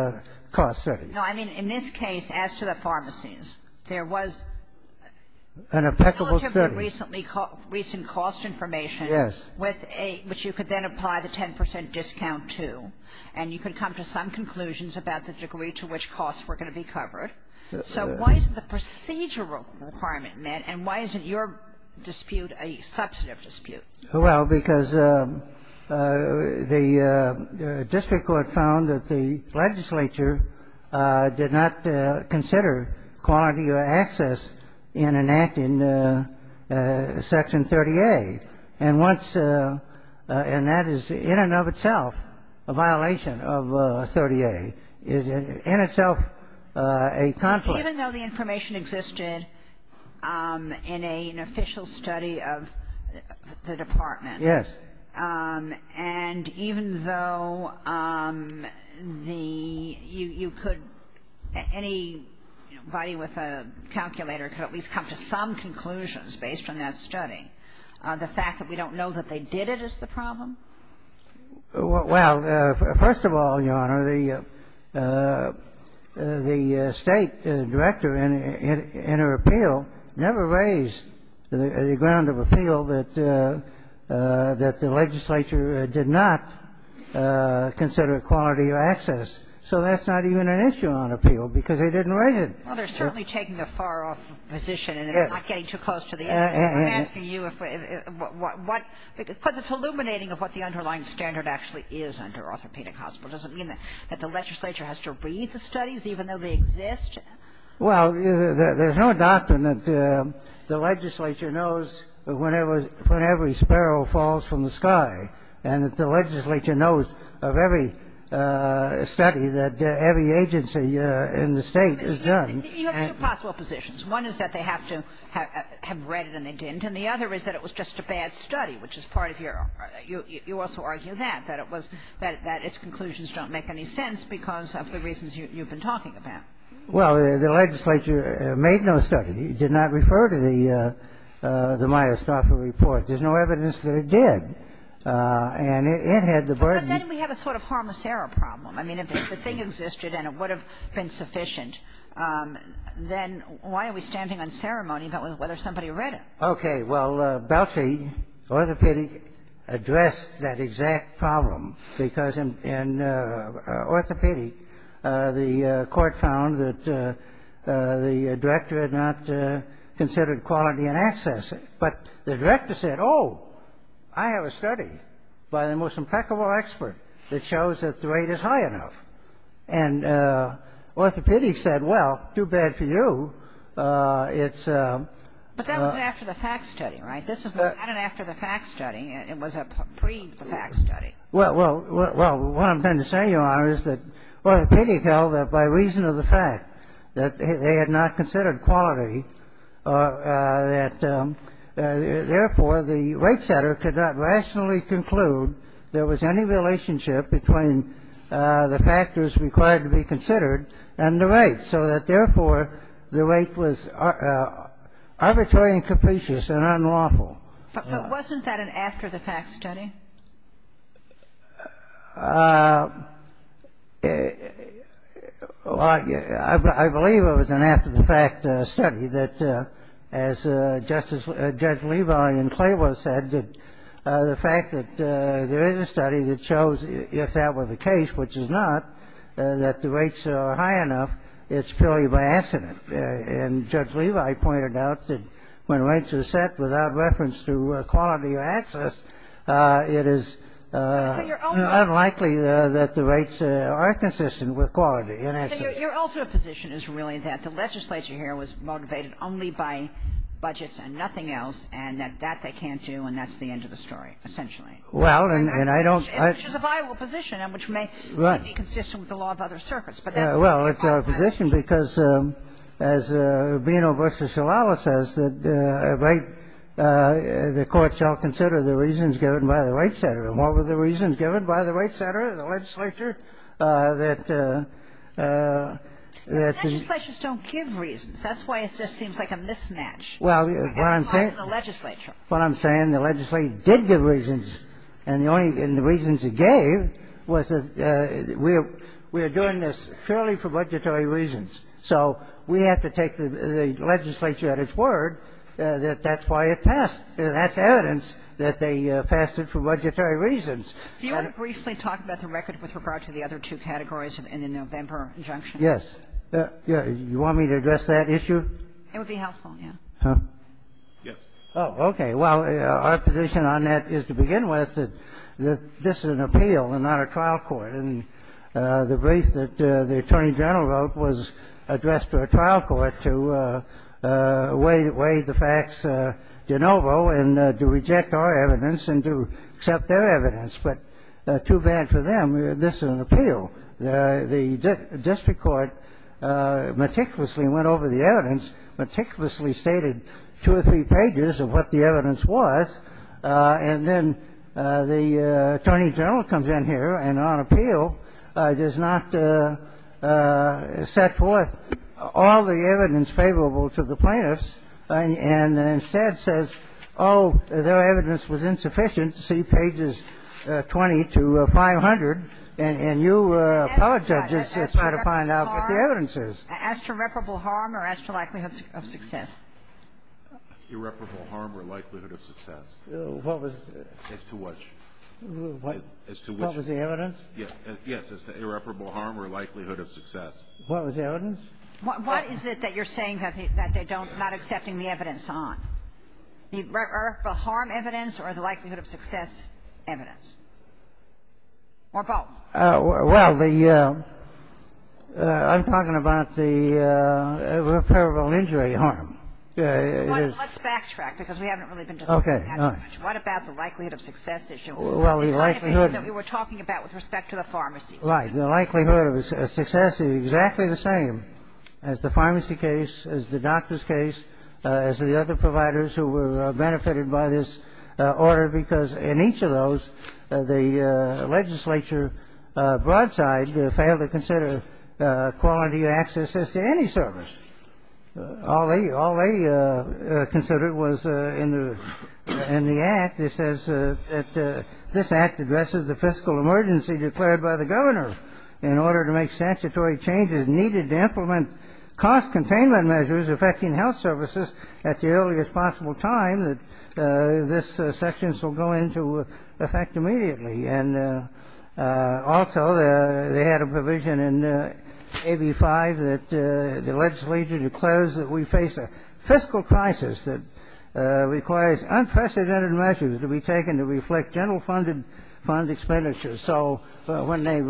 cost study. No, I mean in this case, as to the pharmacies, there was relatively recent cost information which you could then apply the 10 percent discount to and you could come to some conclusions about the degree to which costs were going to be covered. So why is the procedural requirement met and why is your dispute a substantive dispute? Well, because the district court found that the legislature did not consider quality of access in enacting Section 38 and that is in and of itself a violation of 38. It is in itself a conflict. Even though the information existed in an official study of the department. Yes. And even though you could, anybody with a calculator could at least come to some conclusions based on that study on the fact that we don't know that they did it is the problem? Well, first of all, Your Honor, the state director in her appeal never raised the ground of appeal that the legislature did not consider quality of access. So that's not even an issue on appeal because they didn't raise it. Well, they're certainly taking a far off position and they're not getting too close to the issue. I'm asking you because it's illuminating of what the underlying standard actually is under orthopedic hospital. Does it mean that the legislature has to read the studies even though they exist? Well, there's no doctrine that the legislature knows when every sparrow falls from the sky and the legislature knows of every study that every agency in the state has done. You have two possible positions. One is that they have to have read it and they didn't, and the other is that it was just a bad study, which is part of your, you also argue that, that it was, that its conclusions don't make any sense because of the reasons you've been talking about. Well, the legislature made no study. It did not refer to the Myers-Thompson report. There's no evidence that it did. And it had the burden. But then we have a sort of harmicera problem. I mean, if the thing existed and it would have been sufficient, then why are we standing on ceremony about whether somebody read it? Okay, well, Belsey Orthopedic addressed that exact problem because in orthopedic the court found that the director had not considered quality and access. But the director said, oh, I have a study by the most impeccable expert that shows that the rate is high enough. And orthopedic said, well, too bad for you. But that was after the fact study, right? This is not an after-the-fact study. It was a pre-the-fact study. Well, what I'm trying to say, Your Honor, is that orthopedic held that by reason of the fact that they had not considered quality, that, therefore, the rate setter could not rationally conclude there was any relationship between the factors required to be considered and the rate, so that, therefore, the rate was arbitrary and capricious and unlawful. But wasn't that an after-the-fact study? Well, I believe it was an after-the-fact study that, as Judge Levi and Claywell said, the fact that there is a study that shows if that were the case, which it's not, that the rates are high enough, it's purely by accident. And Judge Levi pointed out that when rates are set without reference to quality or access, it is unlikely that the rates are consistent with quality. Your ultimate position is really that the legislature here was motivated only by budgets and nothing else, and that that they can't do, and that's the end of the story, essentially. Well, and I don't – Which is a viable position and which may be consistent with the law of other circuits. Well, it's our position because, as Urbino v. Shalala says, the court shall consider the reasons given by the rate setter. And what were the reasons given by the rate setter, the legislature, that – Legislatures don't give reasons. That's why it just seems like a mismatch. Well, what I'm saying – The legislature. What I'm saying, the legislature did give reasons. And the reasons it gave was that we are doing this purely for budgetary reasons. So we have to take the legislature at its word that that's why it passed. And that's evidence that they passed it for budgetary reasons. Do you want to briefly talk about the record with regard to the other two categories in the November injunction? Yes. You want me to address that issue? It would be helpful, yes. Huh? Yes. Oh, okay. Well, our position on that is to begin with that this is an appeal and not a trial court. And the brief that the attorney general wrote was addressed to a trial court to weigh the facts de novo and to reject our evidence and to accept their evidence. But too bad for them. This is an appeal. The district court meticulously went over the evidence, meticulously stated two or three pages of what the evidence was. And then the attorney general comes in here and on appeal does not set forth all the evidence favorable to the plaintiffs and instead says, oh, their evidence was insufficient. See pages 20 to 500. And you college judges try to find out what the evidence is. As to reputable harm or as to likelihood of success. Irreparable harm or likelihood of success. As to what? What was the evidence? Yes, irreparable harm or likelihood of success. What was the evidence? What is it that you're saying that they're not accepting the evidence on? The harm evidence or the likelihood of success evidence? Or both. Well, I'm talking about the irreparable injury harm. Let's backtrack because we haven't really been talking about that much. What about the likelihood of success issue? Well, the likelihood. The kind of issue that we were talking about with respect to the pharmacy. Right. The likelihood of success is exactly the same as the pharmacy case, as the doctor's case, as the other providers who were benefited by this order because in each of those, the legislature broadside failed to consider quality access to any service. All they considered was in the act it says that this act addresses the fiscal emergency declared by the governor in order to make statutory changes needed to implement cost containment measures affecting health services at the earliest possible time that these sections will go into effect immediately. Also, they had a provision in AB 5 that the legislature declares that we face a fiscal crisis that requires unprecedented measures to be taken to reflect general fund expenditures. So when they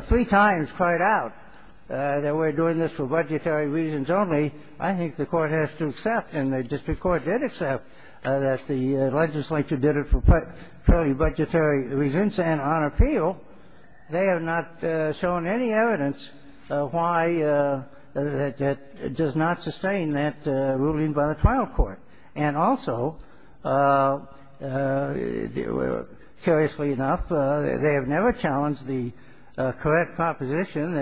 three times cried out that we're doing this for budgetary reasons only, I think the court has to accept and the district court did accept that the legislature did it for purely budgetary reasons and on appeal they have not shown any evidence why that does not sustain that ruling by the trial court. And also, curiously enough, they have never challenged the correct proposition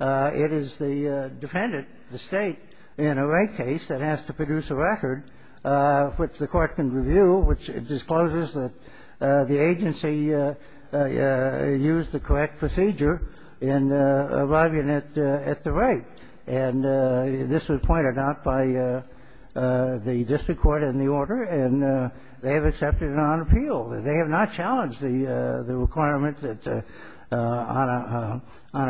that it is the defendant, the state, in a rape case that has to produce a record which the court can review, which discloses that the agency used the correct procedure in arriving at the rape. And this was pointed out by the district court in the order and they have accepted it on appeal. They have not challenged the requirement that on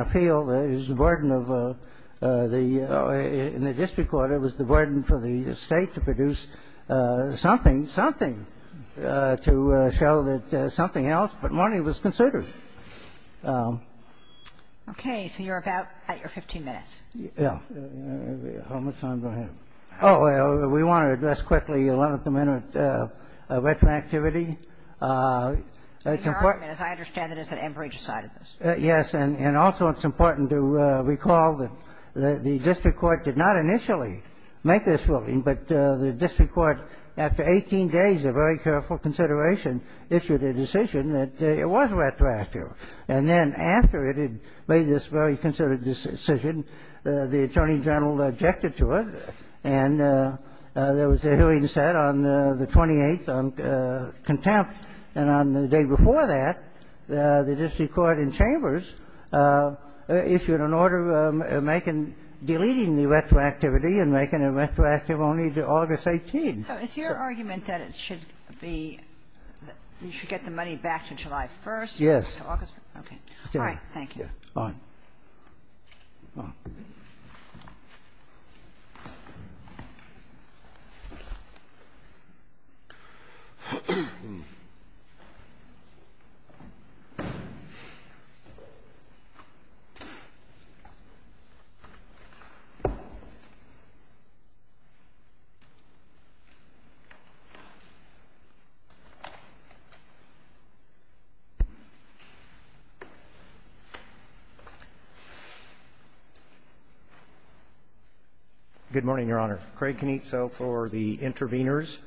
appeal is the burden of the district court. It was the burden for the state to produce something, something, to show that something else but money was considered. Okay. So you're about at your 15 minutes. Yeah. How much time do I have? Oh, we want to address quickly one at the minute retroactivity. As I understand it, it's at Enbridge side of this. Yes, and also it's important to recall that the district court did not initially make this ruling, but the district court, after 18 days of very careful consideration, issued a decision that it was retroactive. And then after it had made this very considerate decision, the attorney general objected to it, and there was a hearing set on the 28th on contempt. And on the day before that, the district court in Chambers issued an order deleting the retroactivity and making it retroactive only to August 18th. So it's your argument that it should be that you should get the money back to July 1st? Yes. Okay. All right. Thank you. All right. Thank you. Good morning, Your Honor. Craig Canizzo for the interveners.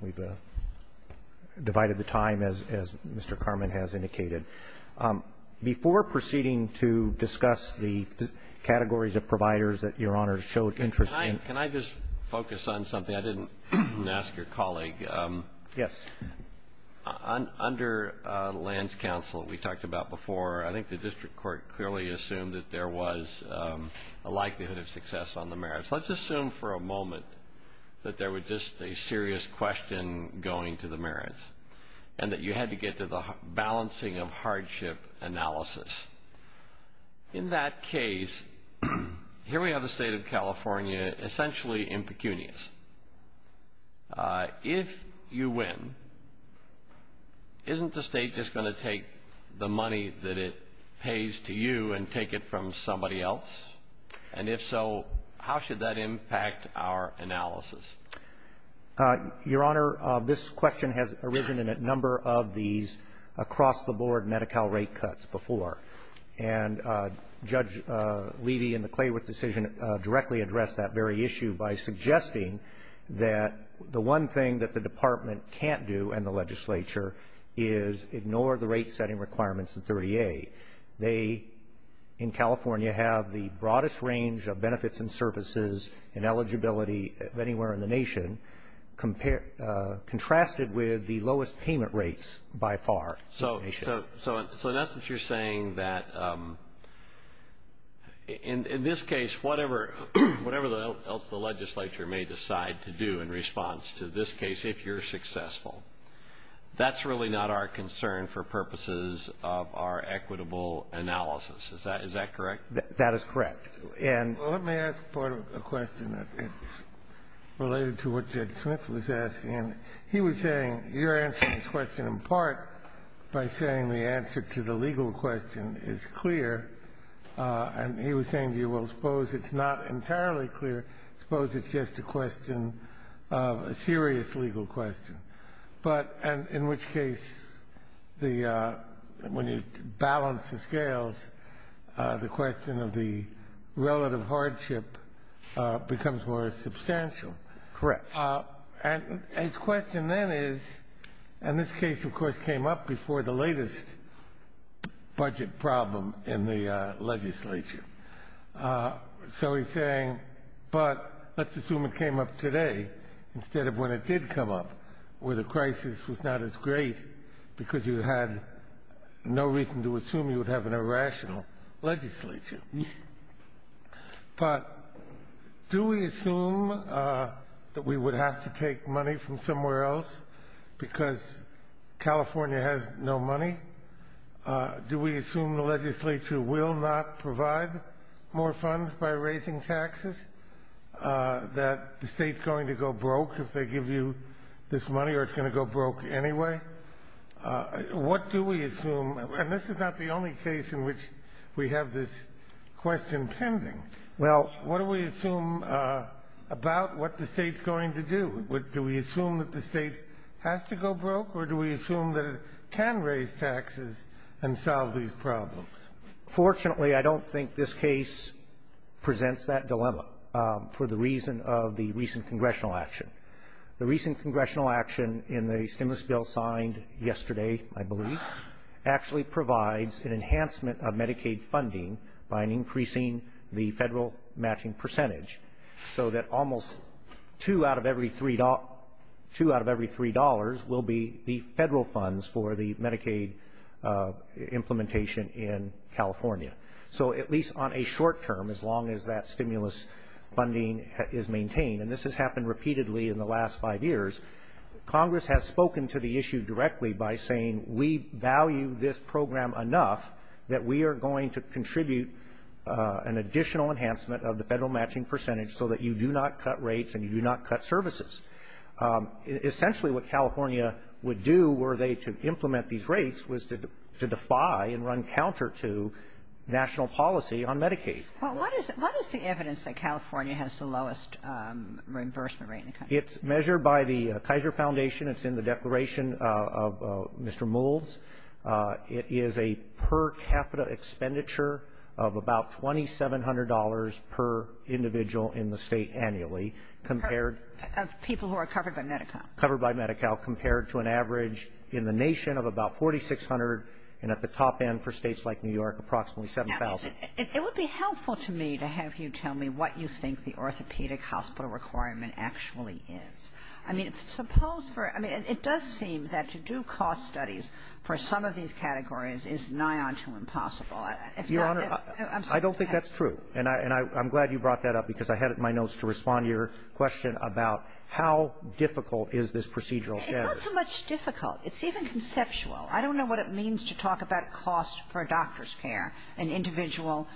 We've divided the time, as Mr. Carman has indicated. Before proceeding to discuss the categories of providers that Your Honor showed interest in. Can I just focus on something? I didn't ask your colleague. Yes. Under lands council, we talked about before, I think the district court clearly assumed that there was a likelihood of success on the merits. Let's assume for a moment that there was just a serious question going to the merits and that you had to get to the balancing of hardship analysis. In that case, here we have the state of California essentially impecunious. If you win, isn't the state just going to take the money that it pays to you and take it from somebody else? And if so, how should that impact our analysis? Your Honor, this question has arisen in a number of these across-the-board Medi-Cal rate cuts before. And Judge Levy in the Clayworth decision directly addressed that very issue by suggesting that the one thing that the department can't do and the legislature is ignore the rate setting requirements in 30A. They, in California, have the broadest range of benefits and services and eligibility of anywhere in the nation, contrasted with the lowest payment rates by far. So in essence, you're saying that in this case, whatever the legislature may decide to do in response to this case, if you're successful, that's really not our concern for purposes of our equitable analysis. Is that correct? That is correct. Let me ask part of the question that is related to what Judge Smith was asking. He was saying you're answering this question in part by saying the answer to the legal question is clear. And he was saying to you, well, suppose it's not entirely clear. Suppose it's just a question, a serious legal question. But in which case, when you balance the scales, the question of the relative hardship becomes more substantial. Correct. And his question then is, and this case, of course, came up before the latest budget problem in the legislature. So he's saying, but let's assume it came up today instead of when it did come up, where the crisis was not as great because you had no reason to assume you would have an irrational legislature. But do we assume that we would have to take money from somewhere else because California has no money? Do we assume the legislature will not provide more funds by raising taxes, that the state's going to go broke if they give you this money or it's going to go broke anyway? What do we assume? And this is not the only case in which we have this question pending. Well, what do we assume about what the state's going to do? Do we assume that the state has to go broke or do we assume that it can raise taxes and solve these problems? Fortunately, I don't think this case presents that dilemma for the reason of the recent congressional action. The recent congressional action in the stimulus bill signed yesterday, I believe, actually provides an enhancement of Medicaid funding by increasing the federal matching percentage so that almost two out of every three dollars will be the federal funds for the Medicaid implementation in California. So at least on a short term, as long as that stimulus funding is maintained, and this has happened repeatedly in the last five years, Congress has spoken to the issue directly by saying we value this program enough that we are going to contribute an additional enhancement of the federal matching percentage so that you do not cut rates and you do not cut services. Essentially what California would do were they to implement these rates was to defy and run counter to national policy on Medicaid. Well, what is the evidence that California has the lowest reimbursement rate in the country? It's measured by the Kaiser Foundation. It's in the Declaration of Mr. Mould's. It is a per capita expenditure of about $2,700 per individual in the state annually compared. Of people who are covered by Medi-Cal. Covered by Medi-Cal compared to an average in the nation of about $4,600 and at the top end for states like New York approximately $7,000. It would be helpful to me to have you tell me what you think the orthopedic hospital requirement actually is. I mean, it does seem that to do cost studies for some of these categories is nigh unto impossible. Your Honor, I don't think that's true. And I'm glad you brought that up because I had it in my notes to respond to your question about how difficult is this procedural standard. It's not so much difficult. It's even conceptual. I don't know what it means to talk about cost for doctor's care and individual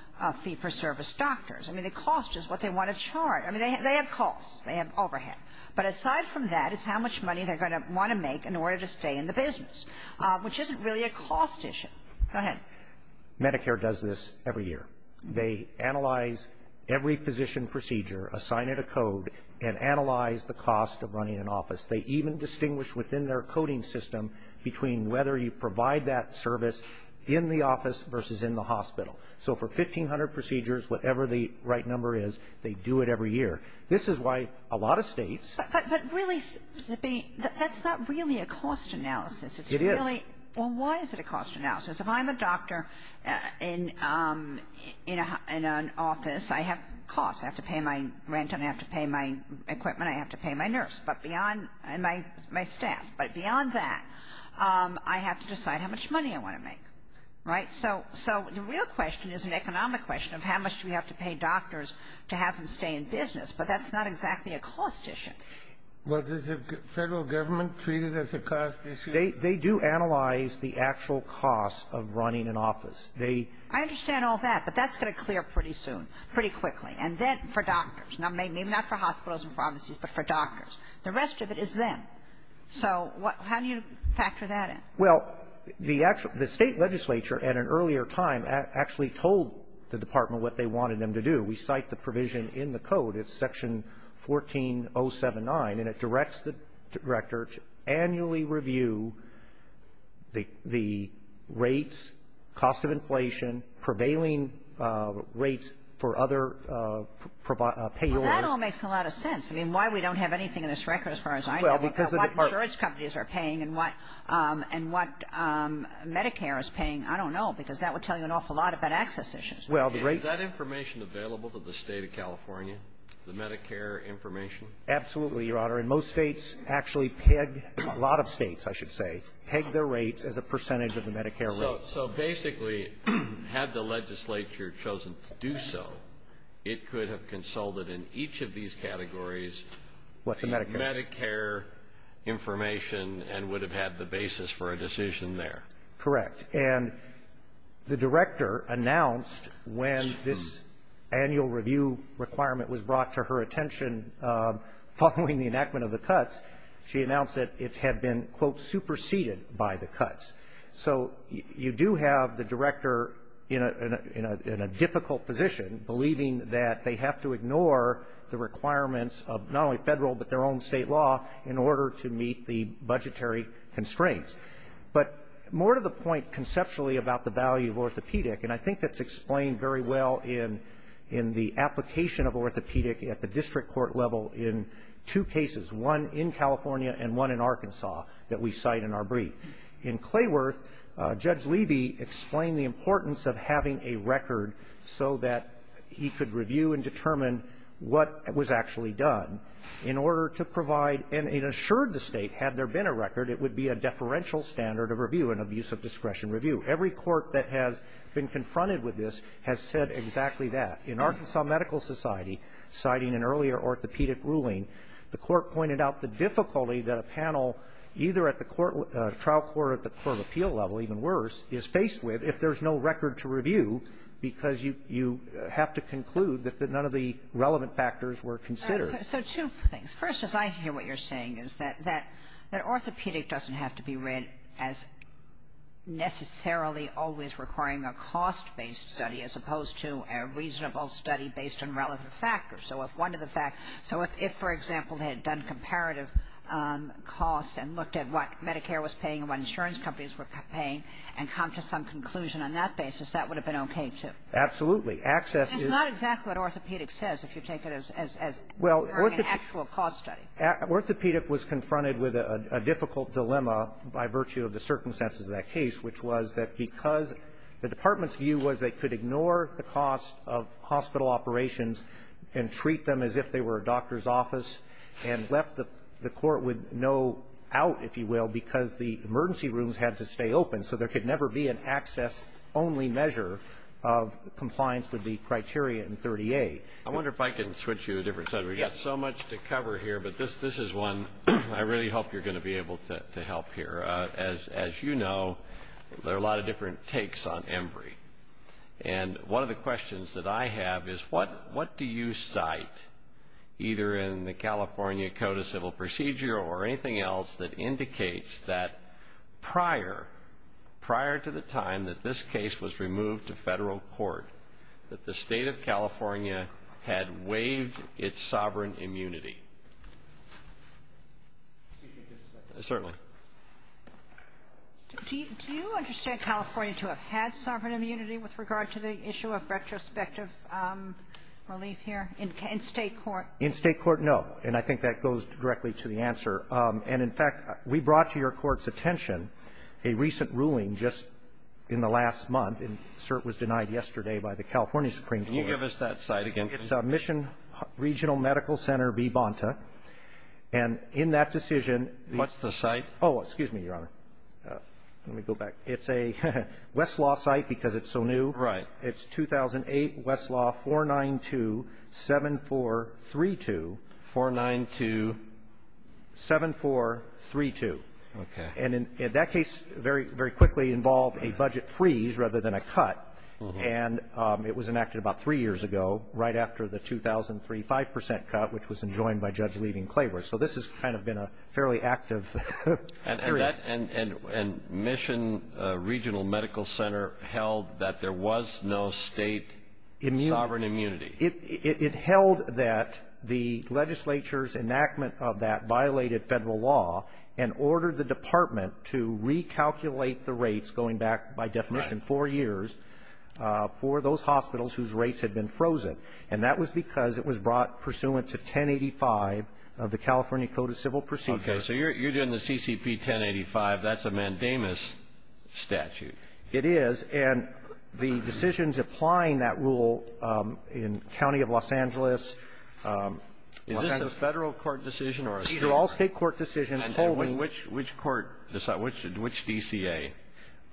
fee-for-service doctors. I mean, the cost is what they want to charge. I mean, they have costs. They have overhead. But aside from that is how much money they're going to want to make in order to stay in the business, which isn't really a cost issue. Go ahead. Medicare does this every year. They analyze every physician procedure, assign it a code, and analyze the cost of running an office. They even distinguish within their coding system between whether you provide that service in the office versus in the hospital. So for 1,500 procedures, whatever the right number is, they do it every year. This is why a lot of states. But really, that's not really a cost analysis. It is. Well, why is it a cost analysis? If I'm a doctor in an office, I have costs. I have to pay my rent. I have to pay my equipment. I have to pay my nurse and my staff. But beyond that, I have to decide how much money I want to make, right? So the real question is an economic question of how much do we have to pay doctors to have them stay in business. But that's not exactly a cost issue. Well, does the federal government treat it as a cost issue? They do analyze the actual cost of running an office. I understand all that, but that's going to clear pretty soon, pretty quickly, and then for doctors. Not for hospitals and pharmacies, but for doctors. The rest of it is them. So how do you factor that in? Well, the state legislature at an earlier time actually told the department what they wanted them to do. We cite the provision in the code. It's Section 14079, and it directs the director to annually review the rates, cost of inflation, prevailing rates for other payors. Well, that all makes a lot of sense. I mean, why we don't have anything in this record as far as I know? What insurance companies are paying and what Medicare is paying, I don't know, because that would tell you an awful lot about access issues. Is that information available to the state of California, the Medicare information? Absolutely, Your Honor. And most states actually peg, a lot of states, I should say, peg their rates as a percentage of the Medicare rate. So basically, had the legislature chosen to do so, it could have consulted in each of these categories. What's the Medicare? Medicare information and would have had the basis for a decision there. Correct. And the director announced when this annual review requirement was brought to her attention following the enactment of the cuts, she announced that it had been, quote, superseded by the cuts. So you do have the director in a difficult position, believing that they have to ignore the requirements of not only federal but their own state law in order to meet the budgetary constraints. But more to the point conceptually about the value of orthopedic, and I think that's explained very well in the application of orthopedic at the district court level in two cases, one in California and one in Arkansas that we cite in our brief. In Clayworth, Judge Levy explained the importance of having a record so that he could review and determine what was actually done in order to provide and it assured the state had there been a record it would be a deferential standard of review and abuse of discretion review. Every court that has been confronted with this has said exactly that. In Arkansas Medical Society, citing an earlier orthopedic ruling, the court pointed out the difficulty that a panel either at the trial court or at the court of appeal level, even worse, is faced with if there's no record to review because you have to conclude that none of the relevant factors were considered. So two things. First, as I hear what you're saying is that orthopedic doesn't have to be read as necessarily always requiring a cost-based study as opposed to a reasonable study based on relevant factors. So if, for example, they had done comparative costs and looked at what Medicare was paying and what insurance companies were paying and come to some conclusion on that basis, that would have been okay too. Absolutely. It's not exactly what orthopedic says if you take it as requiring an actual cost study. Orthopedic was confronted with a difficult dilemma by virtue of the circumstances of that case, which was that because the department's view was they could ignore the cost of hospital operations and treat them as if they were a doctor's office and left the court with no out, if you will, because the emergency rooms had to stay open. So there could never be an access-only measure of compliance with the criteria in 38. I wonder if I can switch you to a different subject. We've got so much to cover here, but this is one I really hope you're going to be able to help here. As you know, there are a lot of different takes on EMBRI. And one of the questions that I have is what do you cite, either in the California Code of Civil Procedure or anything else that indicates that prior to the time that this case was removed to federal court, that the state of California had waived its sovereign immunity? Certainly. Do you understand California to have had sovereign immunity with regard to the issue of retrospective relief here in state court? In state court, no, and I think that goes directly to the answer. And, in fact, we brought to your court's attention a recent ruling just in the last month, and it was denied yesterday by the California Supreme Court. Can you give us that cite again, please? It's Mission Regional Medical Center v. Bonta. And in that decision... What's the cite? Oh, excuse me, Your Honor. Let me go back. It's a Westlaw cite because it's so new. Right. It's 2008 Westlaw 4927432. 4927432. Okay. And that case very quickly involved a budget freeze rather than a cut, and it was enacted about three years ago right after the 2003 5% cut, which was enjoined by Judge Levy and Clayborough. So this has kind of been a fairly active period. And Mission Regional Medical Center held that there was no state sovereign immunity. It held that the legislature's enactment of that violated federal law and ordered the department to recalculate the rates going back, by definition, four years for those hospitals whose rates had been frozen. And that was because it was brought pursuant to 1085 of the California Code of Civil Procedure. Okay. So you're doing the CCP 1085. That's a mandamus statute. It is. And the decisions applying that rule in the county of Los Angeles... Is this a federal court decision or a state court decision? Which DCA?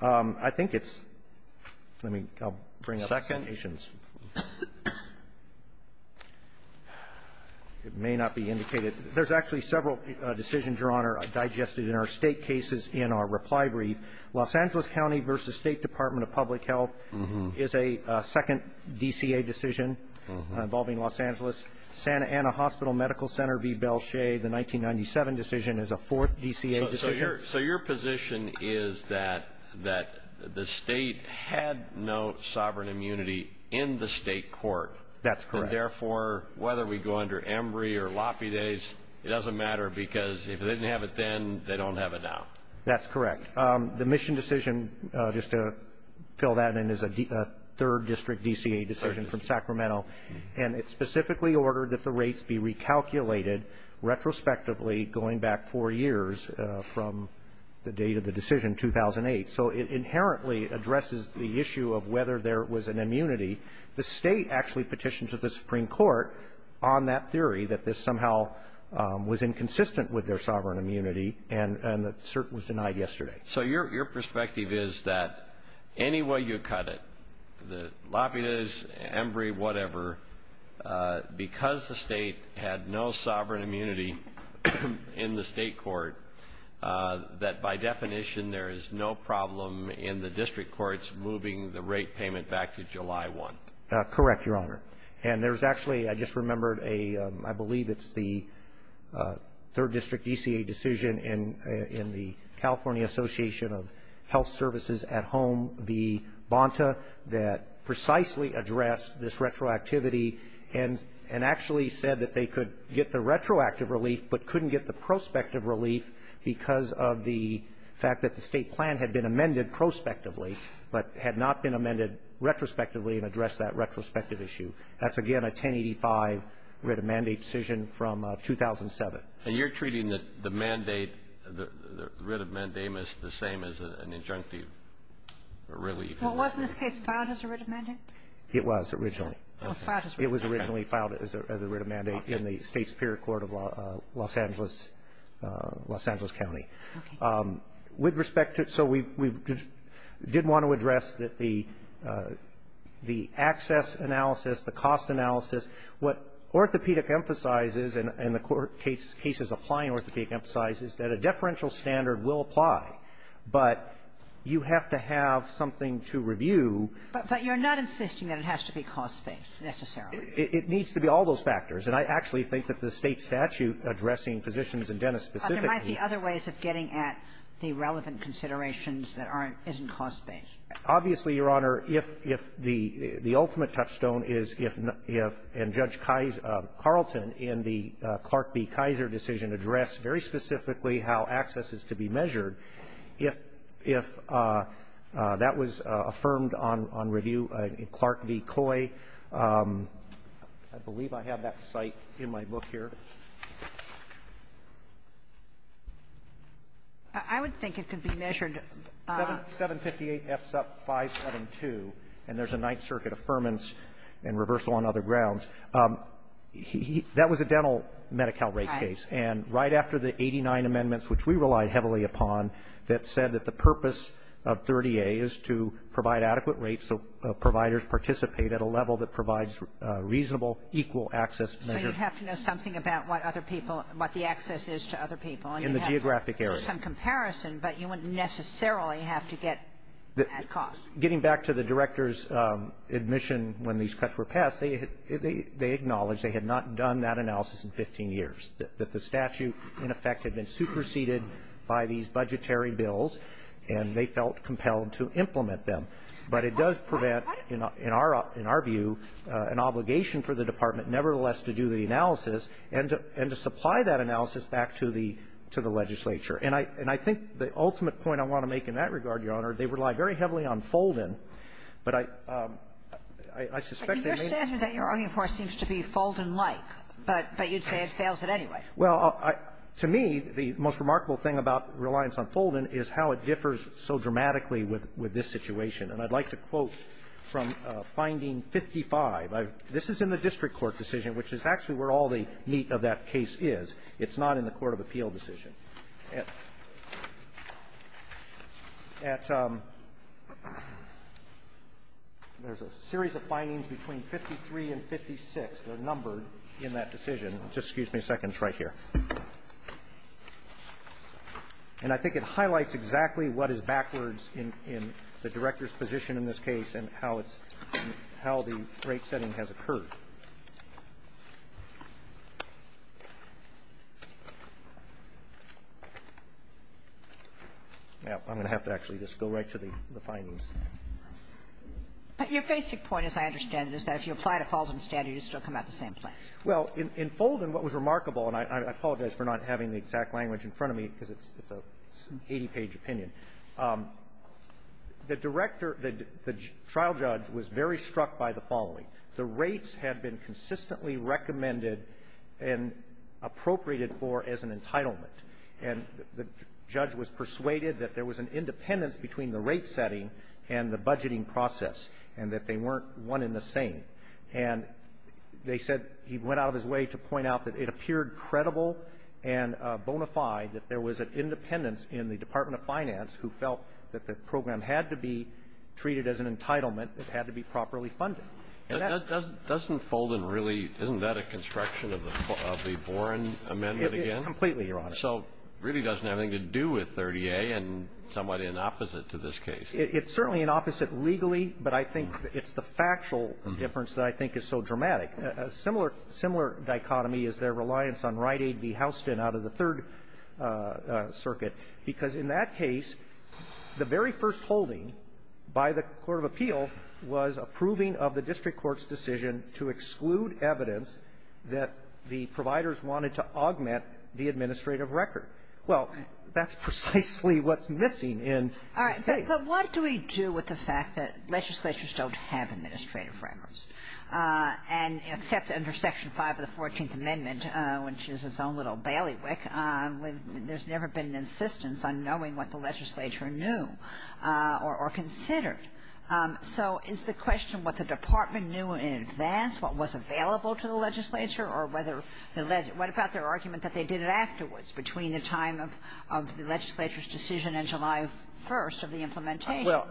I think it's... Let me bring up... Second. It may not be indicated. There's actually several decisions, Your Honor, digested in our state cases in our reply brief. Los Angeles County v. State Department of Public Health is a second DCA decision involving Los Angeles. Santa Ana Hospital Medical Center v. Belle Che, the 1997 decision, is a fourth DCA decision. So your position is that the state had no sovereign immunity in the state court. That's correct. And, therefore, whether we go under Embry or Loppy Days, it doesn't matter because if they didn't have it then, they don't have it now. That's correct. The Mission decision, just to fill that in, is a third district DCA decision from Sacramento. And it's specifically ordered that the rates be recalculated retrospectively going back four years from the date of the decision, 2008. So it inherently addresses the issue of whether there was an immunity. The state actually petitioned to the Supreme Court on that theory that this somehow was inconsistent with their sovereign immunity. And the cert was denied yesterday. So your perspective is that any way you cut it, the Loppy Days, Embry, whatever, because the state had no sovereign immunity in the state court, that by definition there is no problem in the district courts moving the rate payment back to July 1. Correct, Your Honor. And there's actually, I just remembered, I believe it's the third district DCA decision in the California Association of Health Services at Home, the Bonta, that precisely addressed this retroactivity and actually said that they could get the retroactive relief but couldn't get the prospective relief because of the fact that the state plan had been amended prospectively but had not been amended retrospectively to address that retrospective issue. That's, again, a 1085 writ of mandate decision from 2007. And you're treating the mandate, the writ of mandate, the same as an injunctive relief? Well, wasn't this case filed as a writ of mandate? It was originally. It was originally filed as a writ of mandate in the state superior court of Los Angeles County. With respect to it, so we did want to address the access analysis, the cost analysis. What orthopedic emphasizes and the cases applying orthopedic emphasizes is that a deferential standard will apply, but you have to have something to review. But you're not insisting that it has to be cost-based, necessarily. It needs to be all those factors. And I actually think that the state statute addressing physicians and dentists specifically provides the other ways of getting at the relevant considerations that isn't cost-based. Obviously, Your Honor, if the ultimate touchstone is if Judge Carlton in the Clark v. Kaiser decision addressed very specifically how access is to be measured, if that was affirmed on review, in Clark v. Coy, I believe I have that site in my book here. I would think it could be measured. 758F572, and there's a Ninth Circuit Affirmance and Reversal on Other Grounds. That was a dental Medi-Cal rate case. And right after the 89 amendments, which we relied heavily upon, that said that the purpose of 30A is to provide adequate rates so providers participate at a level that provides reasonable, equal access to measures. So you have to know something about what the access is to other people. In the geographic area. And you have some comparison, but you wouldn't necessarily have to get at cost. Getting back to the director's admission when these cuts were passed, they acknowledged they had not done that analysis in 15 years, that the statute, in effect, had been superseded by these budgetary bills, and they felt compelled to implement them. But it does prevent, in our view, an obligation for the department, nevertheless, to do the analysis and to supply that analysis back to the legislature. And I think the ultimate point I want to make in that regard, Your Honor, they rely very heavily on fold-in. But I suspect they may not. The finding, of course, seems to be fold-in-like, but you'd say it fails at any rate. Well, to me, the most remarkable thing about reliance on fold-in is how it differs so dramatically with this situation. And I'd like to quote from finding 55. This is in the district court decision, which is actually where all the meat of that case is. It's not in the court of appeal decision. There's a series of findings between 53 and 56 that are numbered in that decision. Just excuse me a second. It's right here. And I think it highlights exactly what is backwards in the director's position in this case and how the rate setting has occurred. I'm going to have to actually just go right to the findings. But your basic point, as I understand it, is that if you apply to fold-in standard, you still come out the same place. Well, in fold-in, what was remarkable, and I apologize for not having the exact language in front of me because it's an 80-page opinion, the trial judge was very struck by the following. The rates have been consistently recommended and appropriated for as an entitlement. And the judge was persuaded that there was an independence between the rate setting and the budgeting process and that they weren't one and the same. And they said he went out of his way to point out that it appeared credible and bona fide that there was an independence in the Department of Finance who felt that the program had to be treated as an entitlement. It had to be properly funded. Doesn't fold-in really, isn't that a construction of the Boren Amendment again? Completely, Your Honor. So it really doesn't have anything to do with 30A and somewhat in opposite to this case. It's certainly in opposite legally, but I think it's the factual difference that I think is so dramatic. A similar dichotomy is their reliance on Rite Aid v. Houston out of the Third Circuit because in that case, the very first holding by the Court of Appeal was approving of the district court's decision to exclude evidence that the providers wanted to augment the administrative record. But what do we do with the fact that legislatures don't have administrative records? And except under Section 5 of the 14th Amendment, which is its own little bailiwick, there's never been an insistence on knowing what the legislature knew or considered. So is the question what the department knew in advance what was available to the legislature or what about their argument that they did it afterwards between the time of the legislature's decision and July 1st of the implementation? Well,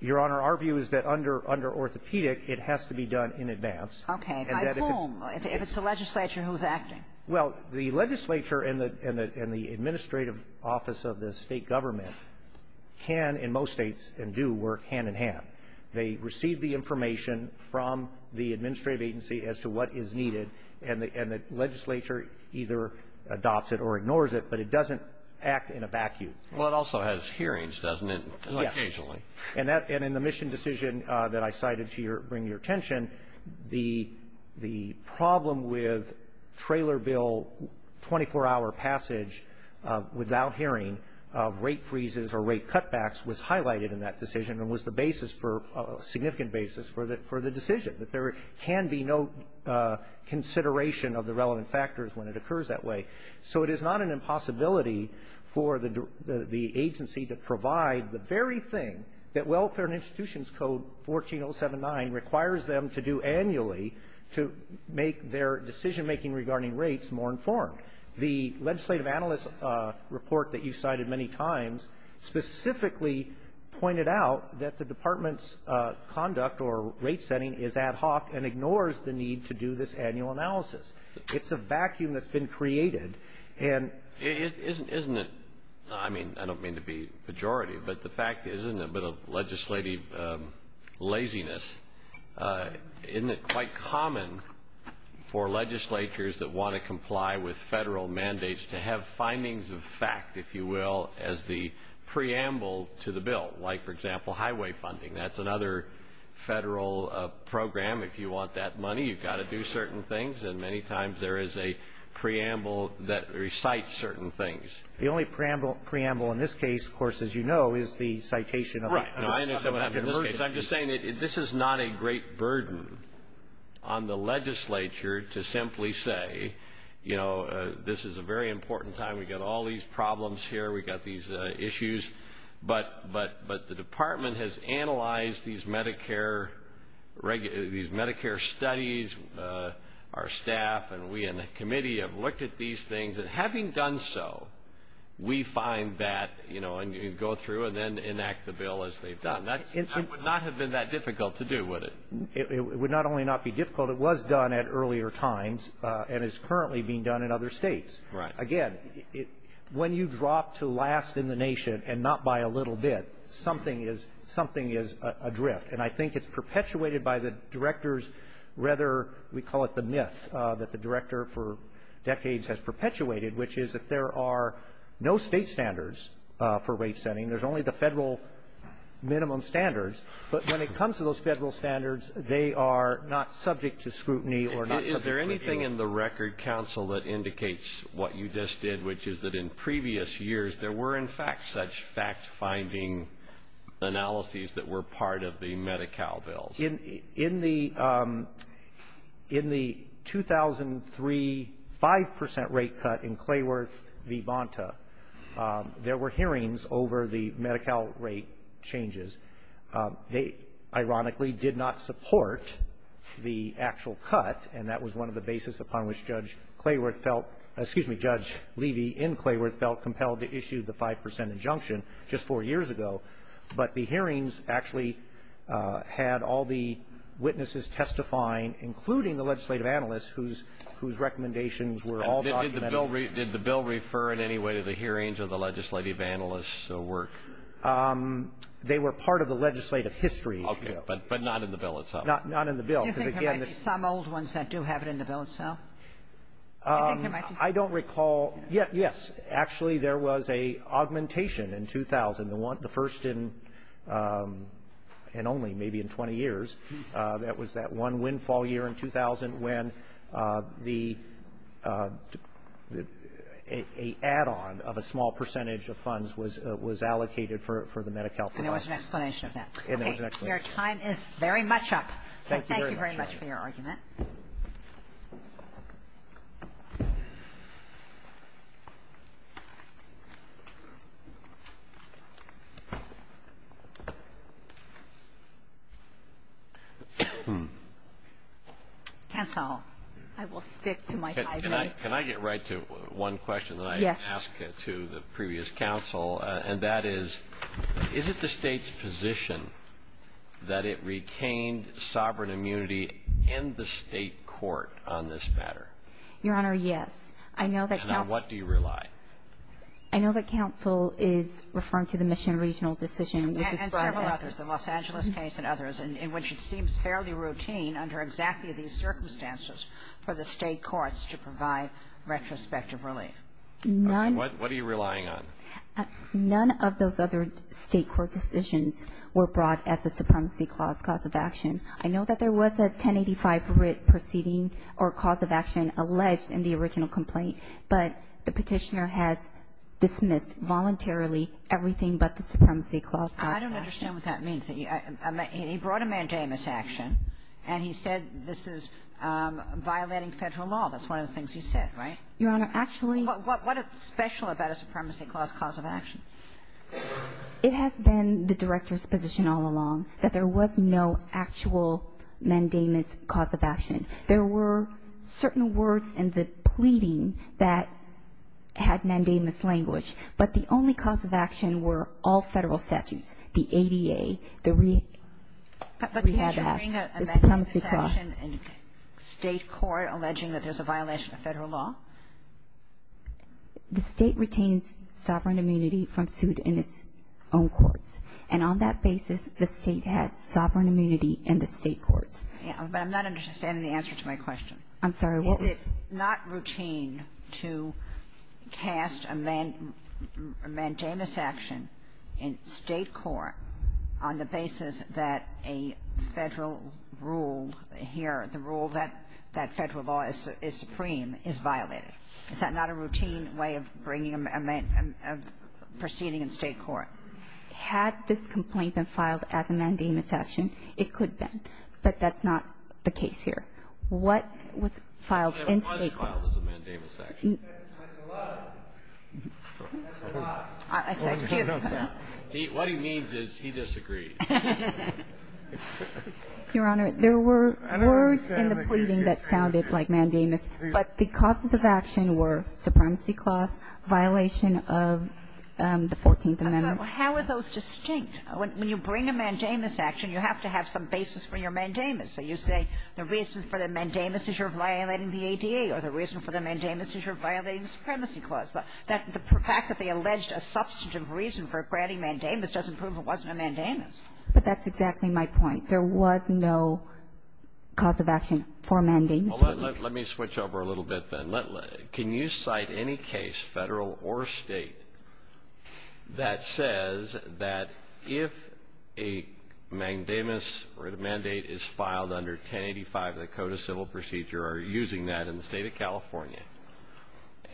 Your Honor, our view is that under orthopedic, it has to be done in advance. Okay. I assume. If it's the legislature, who's acting? Well, the legislature and the administrative office of the state government can in most states and do work hand-in-hand. They receive the information from the administrative agency as to what is needed and the legislature either adopts it or ignores it, but it doesn't act in a vacuum. Well, it also has hearings, doesn't it? Yes. Occasionally. And in the mission decision that I cited to bring your attention, the problem with trailer bill 24-hour passage without hearing of rate freezes or rate cutbacks was highlighted in that decision and was the basis for a significant basis for the decision. That there can be no consideration of the relevant factors when it occurs that way. So it is not an impossibility for the agency to provide the very thing that Welfare and Institutions Code 14079 requires them to do annually to make their decision-making regarding rates more informed. The legislative analyst report that you cited many times specifically pointed out that the department's conduct or rate setting is ad hoc and ignores the need to do this annual analysis. It's a vacuum that's been created. Isn't it? I mean, I don't mean to be pejorative, but the fact is isn't it a bit of legislative laziness? Isn't it quite common for legislatures that want to comply with federal mandates to have findings of fact, if you will, as the preamble to the bill? Like, for example, highway funding. That's another federal program. If you want that money, you've got to do certain things, and many times there is a preamble that recites certain things. The only preamble in this case, of course, as you know, is the citation of it. I'm just saying that this is not a great burden on the legislature to simply say, you know, this is a very important time. We've got all these problems here. We've got these issues. But the department has analyzed these Medicare studies. Our staff and we in the committee have looked at these things, and having done so, we find that, you know, and go through and then enact the bill as they've done. That would not have been that difficult to do, would it? It would not only not be difficult, it was done at earlier times and is currently being done in other states. Again, when you drop to last in the nation and not by a little bit, something is adrift. And I think it's perpetuated by the director's rather, we call it the myth, that the director for decades has perpetuated, which is that there are no state standards for rate setting. There's only the federal minimum standards. But when it comes to those federal standards, they are not subject to scrutiny or not subject to review. One thing in the record, Counsel, that indicates what you just did, which is that in previous years there were, in fact, such fact-finding analyses that were part of the Medi-Cal bill. In the 2003 5% rate cut in Clayworth v. Bonta, there were hearings over the Medi-Cal rate changes. They, ironically, did not support the actual cut, and that was one of the basis upon which Judge Levy in Clayworth felt compelled to issue the 5% injunction just four years ago. But the hearings actually had all the witnesses testifying, including the legislative analysts, whose recommendations were all documented. Did the bill refer in any way to the hearings or the legislative analysts' work? They were part of the legislative history. Okay, but not in the bill itself. Not in the bill. Do you think there might be some old ones that do have it in the bill itself? I don't recall. Yes, actually there was an augmentation in 2000, the first in only maybe in 20 years. That was that one windfall year in 2000 when the add-on of a small percentage of funds was allocated for the Medi-Cal funds. And there was an explanation of that. Your time is very much up. Thank you very much for your argument. Can I get right to one question that I asked to the previous counsel, and that is, is it the state's position that it retained sovereign immunity in the state court on this matter? Your Honor, yes. And on what do you rely? I know that counsel is referring to the Mission Regional decision. And several others, the Los Angeles case and others, in which it seems fairly routine under exactly these circumstances for the state courts to provide retrospective relief. What are you relying on? None of those other state court decisions were brought as a supremacy cause of action. I know that there was a 1085 writ proceeding or cause of action alleged in the original complaint, but the petitioner has dismissed voluntarily everything but the supremacy clause. I don't understand what that means. He brought a mandamus action, and he said this is violating federal law. That's one of the things he said, right? Your Honor, actually. What is special about a supremacy clause cause of action? It has been the director's position all along that there was no actual mandamus cause of action. There were certain words in the pleading that had mandamus language, but the only cause of action were all federal statutes, the ADA, the rehab act. Is there a mandamus action in state court alleging that there's a violation of federal law? The state retains sovereign immunity from suit in its own courts, and on that basis the state has sovereign immunity in the state courts. I'm not understanding the answer to my question. I'm sorry. Is it not routine to cast a mandamus action in state court on the basis that a federal rule here, the rule that federal law is supreme, is violated? Is that not a routine way of proceeding in state court? Had this complaint been filed as a mandamus action, it could have been, but that's not the case here. What was filed in state court? It was filed as a mandamus action. That's a lie. That's a lie. What he means is he disagrees. Your Honor, there were words in the pleading that sounded like mandamus, but the causes of action were supremacy clause, violation of the 14th Amendment. How are those distinct? When you bring a mandamus action, you have to have some basis for your mandamus. So you say the reason for the mandamus is you're violating the ADA or the reason for the mandamus is you're violating the supremacy clause. The fact that they alleged a substantive reason for granting mandamus doesn't prove it wasn't a mandamus. But that's exactly my point. There was no cause of action for mandamus. Let me switch over a little bit then. Can you cite any case, federal or state, that says that if a mandamus or a mandate is filed under 1085 of the Code of Civil Procedure or using that in the state of California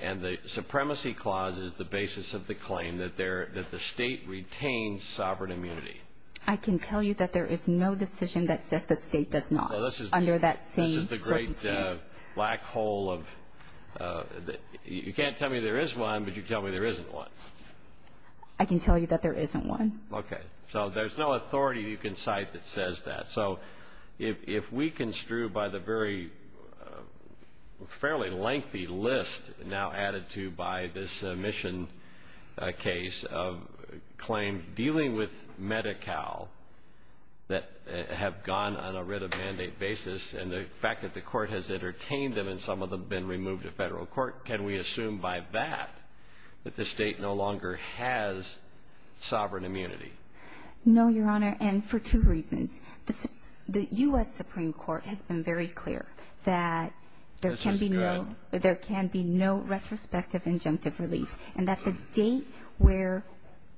and the supremacy clause is the basis of the claim that the state retains sovereign immunity? I can tell you that there is no decision that says the state does not. This is the great black hole of you can't tell me there is one, but you tell me there isn't one. I can tell you that there isn't one. Okay. So there's no authority you can cite that says that. So if we construe by the very fairly lengthy list now added to by this mission case of claim dealing with Medi-Cal that have gone on a writ of mandate basis and the fact that the court has entertained them and some of them have been removed to federal court, can we assume by that that the state no longer has sovereign immunity? No, Your Honor, and for two reasons. The U.S. Supreme Court has been very clear that there can be no retrospective injunctive release and that the date where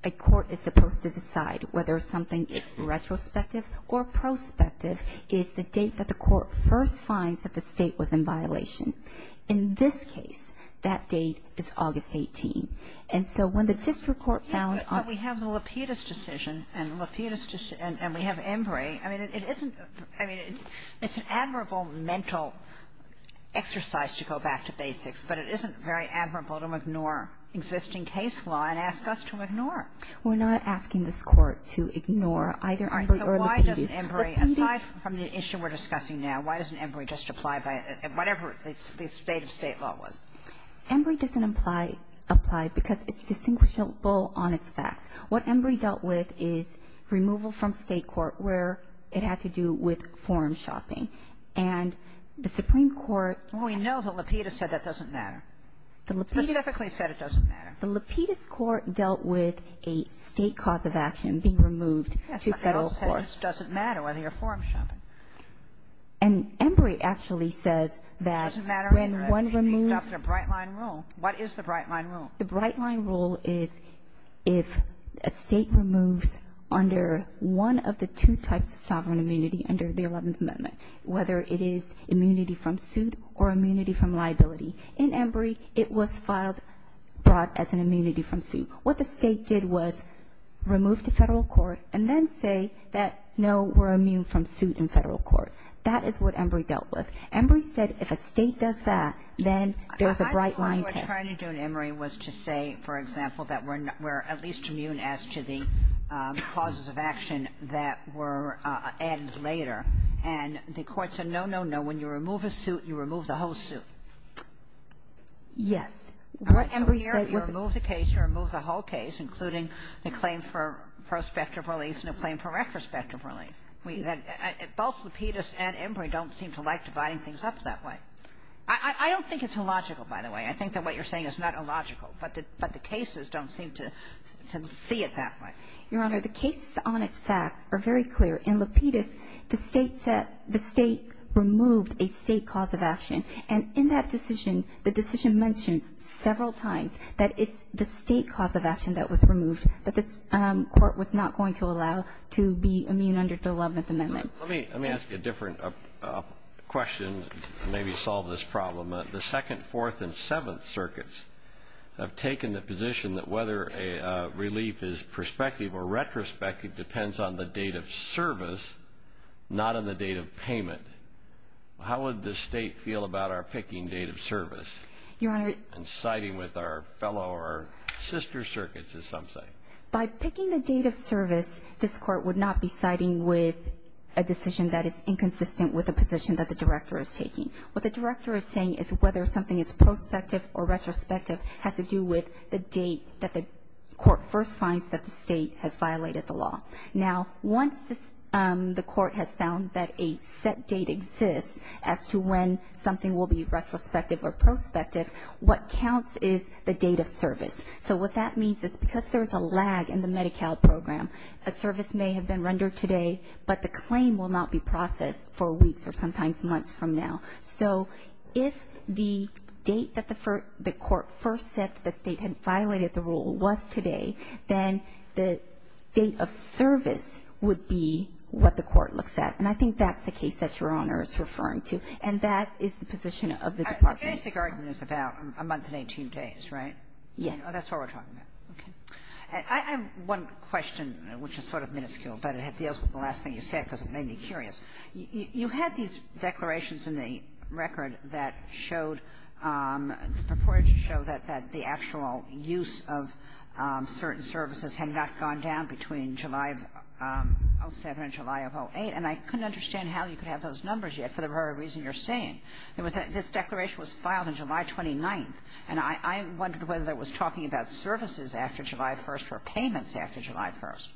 a court is supposed to decide whether something is retrospective or prospective is the date that the court first finds that the state was in violation. In this case, that date is August 18. And so when the district court found... I mean, it's an admirable mental exercise to go back to basics, but it isn't very admirable to ignore existing case law and ask us to ignore it. We're not asking this court to ignore either Embree or the PD. Aside from the issue we're discussing now, why doesn't Embree just apply by whatever the stated state law was? Embree doesn't apply because it's distinguishable on its facts. What Embree dealt with is removal from state court where it had to do with form shopping. And the Supreme Court... We know the Lapidus said that doesn't matter. The Lapidus... Specifically said it doesn't matter. The Lapidus court dealt with a state cause of action being removed to federal court. It doesn't matter whether you're form shopping. And Embree actually said that... It doesn't matter whether you adopt the Bright Line Rule. What is the Bright Line Rule? The Bright Line Rule is if a state removes under one of the two types of sovereign immunity under the 11th Amendment, whether it is immunity from suit or immunity from liability. In Embree, it was filed as an immunity from suit. What the state did was remove the federal court and then say that, no, we're immune from suit in federal court. That is what Embree dealt with. Embree said if a state does that, then there's a Bright Line... What they were trying to do in Embree was to say, for example, that we're at least immune as to the causes of action that were added later. And the court said, no, no, no. When you remove a suit, you remove the whole suit. Yes. Embree removed the case, removed the whole case, including the claim for prospective release and the claim for retrospective release. Both Lapidus and Embree don't seem to like dividing things up that way. I don't think it's illogical, by the way. I think that what you're saying is not illogical, but the cases don't seem to see it that way. Your Honor, the cases on its fact are very clear. In Lapidus, the state removed a state cause of action. And in that decision, the decision mentioned several times that it's the state cause of action that was removed, but the court was not going to allow to be immune under the 11th Amendment. Let me ask you a different question to maybe solve this problem. The 2nd, 4th, and 7th circuits have taken the position that whether a relief is prospective or retrospective depends on the date of service, not on the date of payment. How would the state feel about our picking date of service and siding with our fellow or sister circuits, as some say? By picking the date of service, this court would not be siding with a decision that is inconsistent with the position that the director is taking. What the director is saying is whether something is prospective or retrospective has to do with the date that the court first finds that the state has violated the law. Now, once the court has found that a set date exists as to when something will be retrospective or prospective, what counts is the date of service. So what that means is because there is a lag in the Medi-Cal program, a service may have been rendered today, but the claim will not be processed for weeks or sometimes months from now. So if the date that the court first said that the state had violated the rule was today, then the date of service would be what the court looks at. And I think that's the case that Your Honor is referring to, and that is the position of the department. The basic argument is about a month and 18 days, right? Yes. That's what we're talking about. Okay. I have one question, which is sort of minuscule, but it deals with the last thing you said because it made me curious. You had these declarations in the record that showed that the actual use of certain services had not gone down between July of 2007 and July of 2008, and I couldn't understand how you could have those numbers yet for the very reason you're saying. This declaration was filed on July 29th, and I wondered whether it was talking about services after July 1st or payments after July 1st.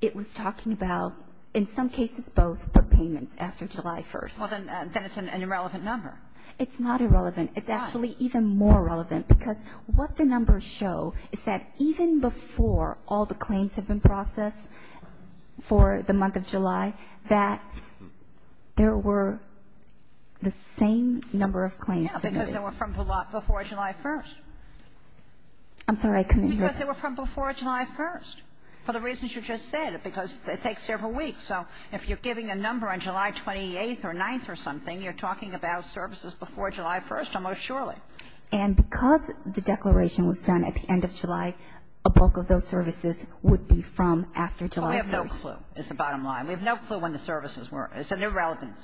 It was talking about, in some cases, both for payments after July 1st. Well, then it's an irrelevant number. It's not irrelevant. It's actually even more relevant because what the numbers show is that even before all the claims have been processed for the month of July, that there were the same number of claims submitted. Because they were from before July 1st. I'm sorry. I couldn't hear. Because they were from before July 1st for the reasons you just said because it takes several weeks. So if you're giving a number on July 28th or 9th or something, you're talking about services before July 1st almost surely. And because the declaration was done at the end of July, a bulk of those services would be from after July 1st. We have no clue is the bottom line. We have no clue when the services were. It's an irrelevant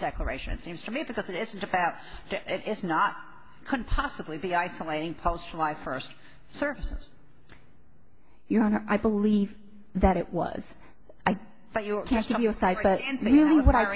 declaration, it seems to me, because it isn't about – it is not – couldn't possibly be isolating post-July 1st services. Your Honor, I believe that it was. I can't give you a site, but really what I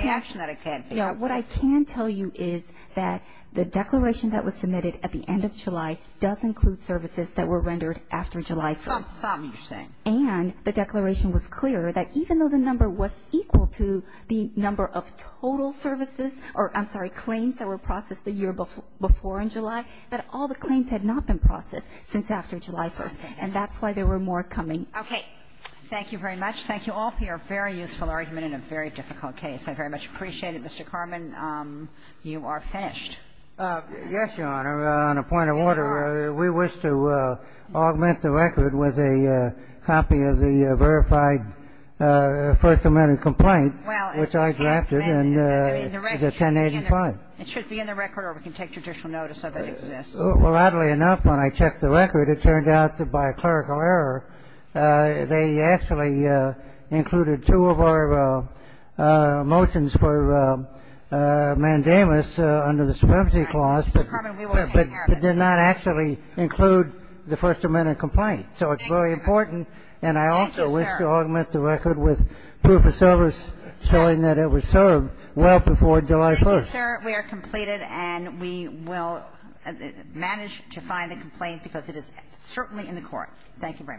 can tell you is that the declaration that was submitted at the end of July does include services that were rendered after July 1st. And the declaration was clear that even though the number was equal to the number of total services – or I'm sorry, claims that were processed the year before in July – that all the claims had not been processed since after July 1st. And that's why there were more coming. Okay. Thank you very much. Thank you all for your very useful argument in a very difficult case. I very much appreciate it. Yes, Your Honor. Your Honor, on a point of order, we wish to augment the record with a copy of the verified First Amendment complaint, which I drafted, and it's a 1085. It should be in the record or we can take judicial notice of it. Well, oddly enough, when I checked the record, it turned out that by clerical error they actually included two of our motions for mandamus under the supremacy clause. But did not actually include the First Amendment complaint. So it's very important. And I also wish to augment the record with proof of service showing that it was served well before July 1st. Thank you, sir. We are completed and we will manage to find the complaint because it is certainly in the court. Thank you very much. Thank you.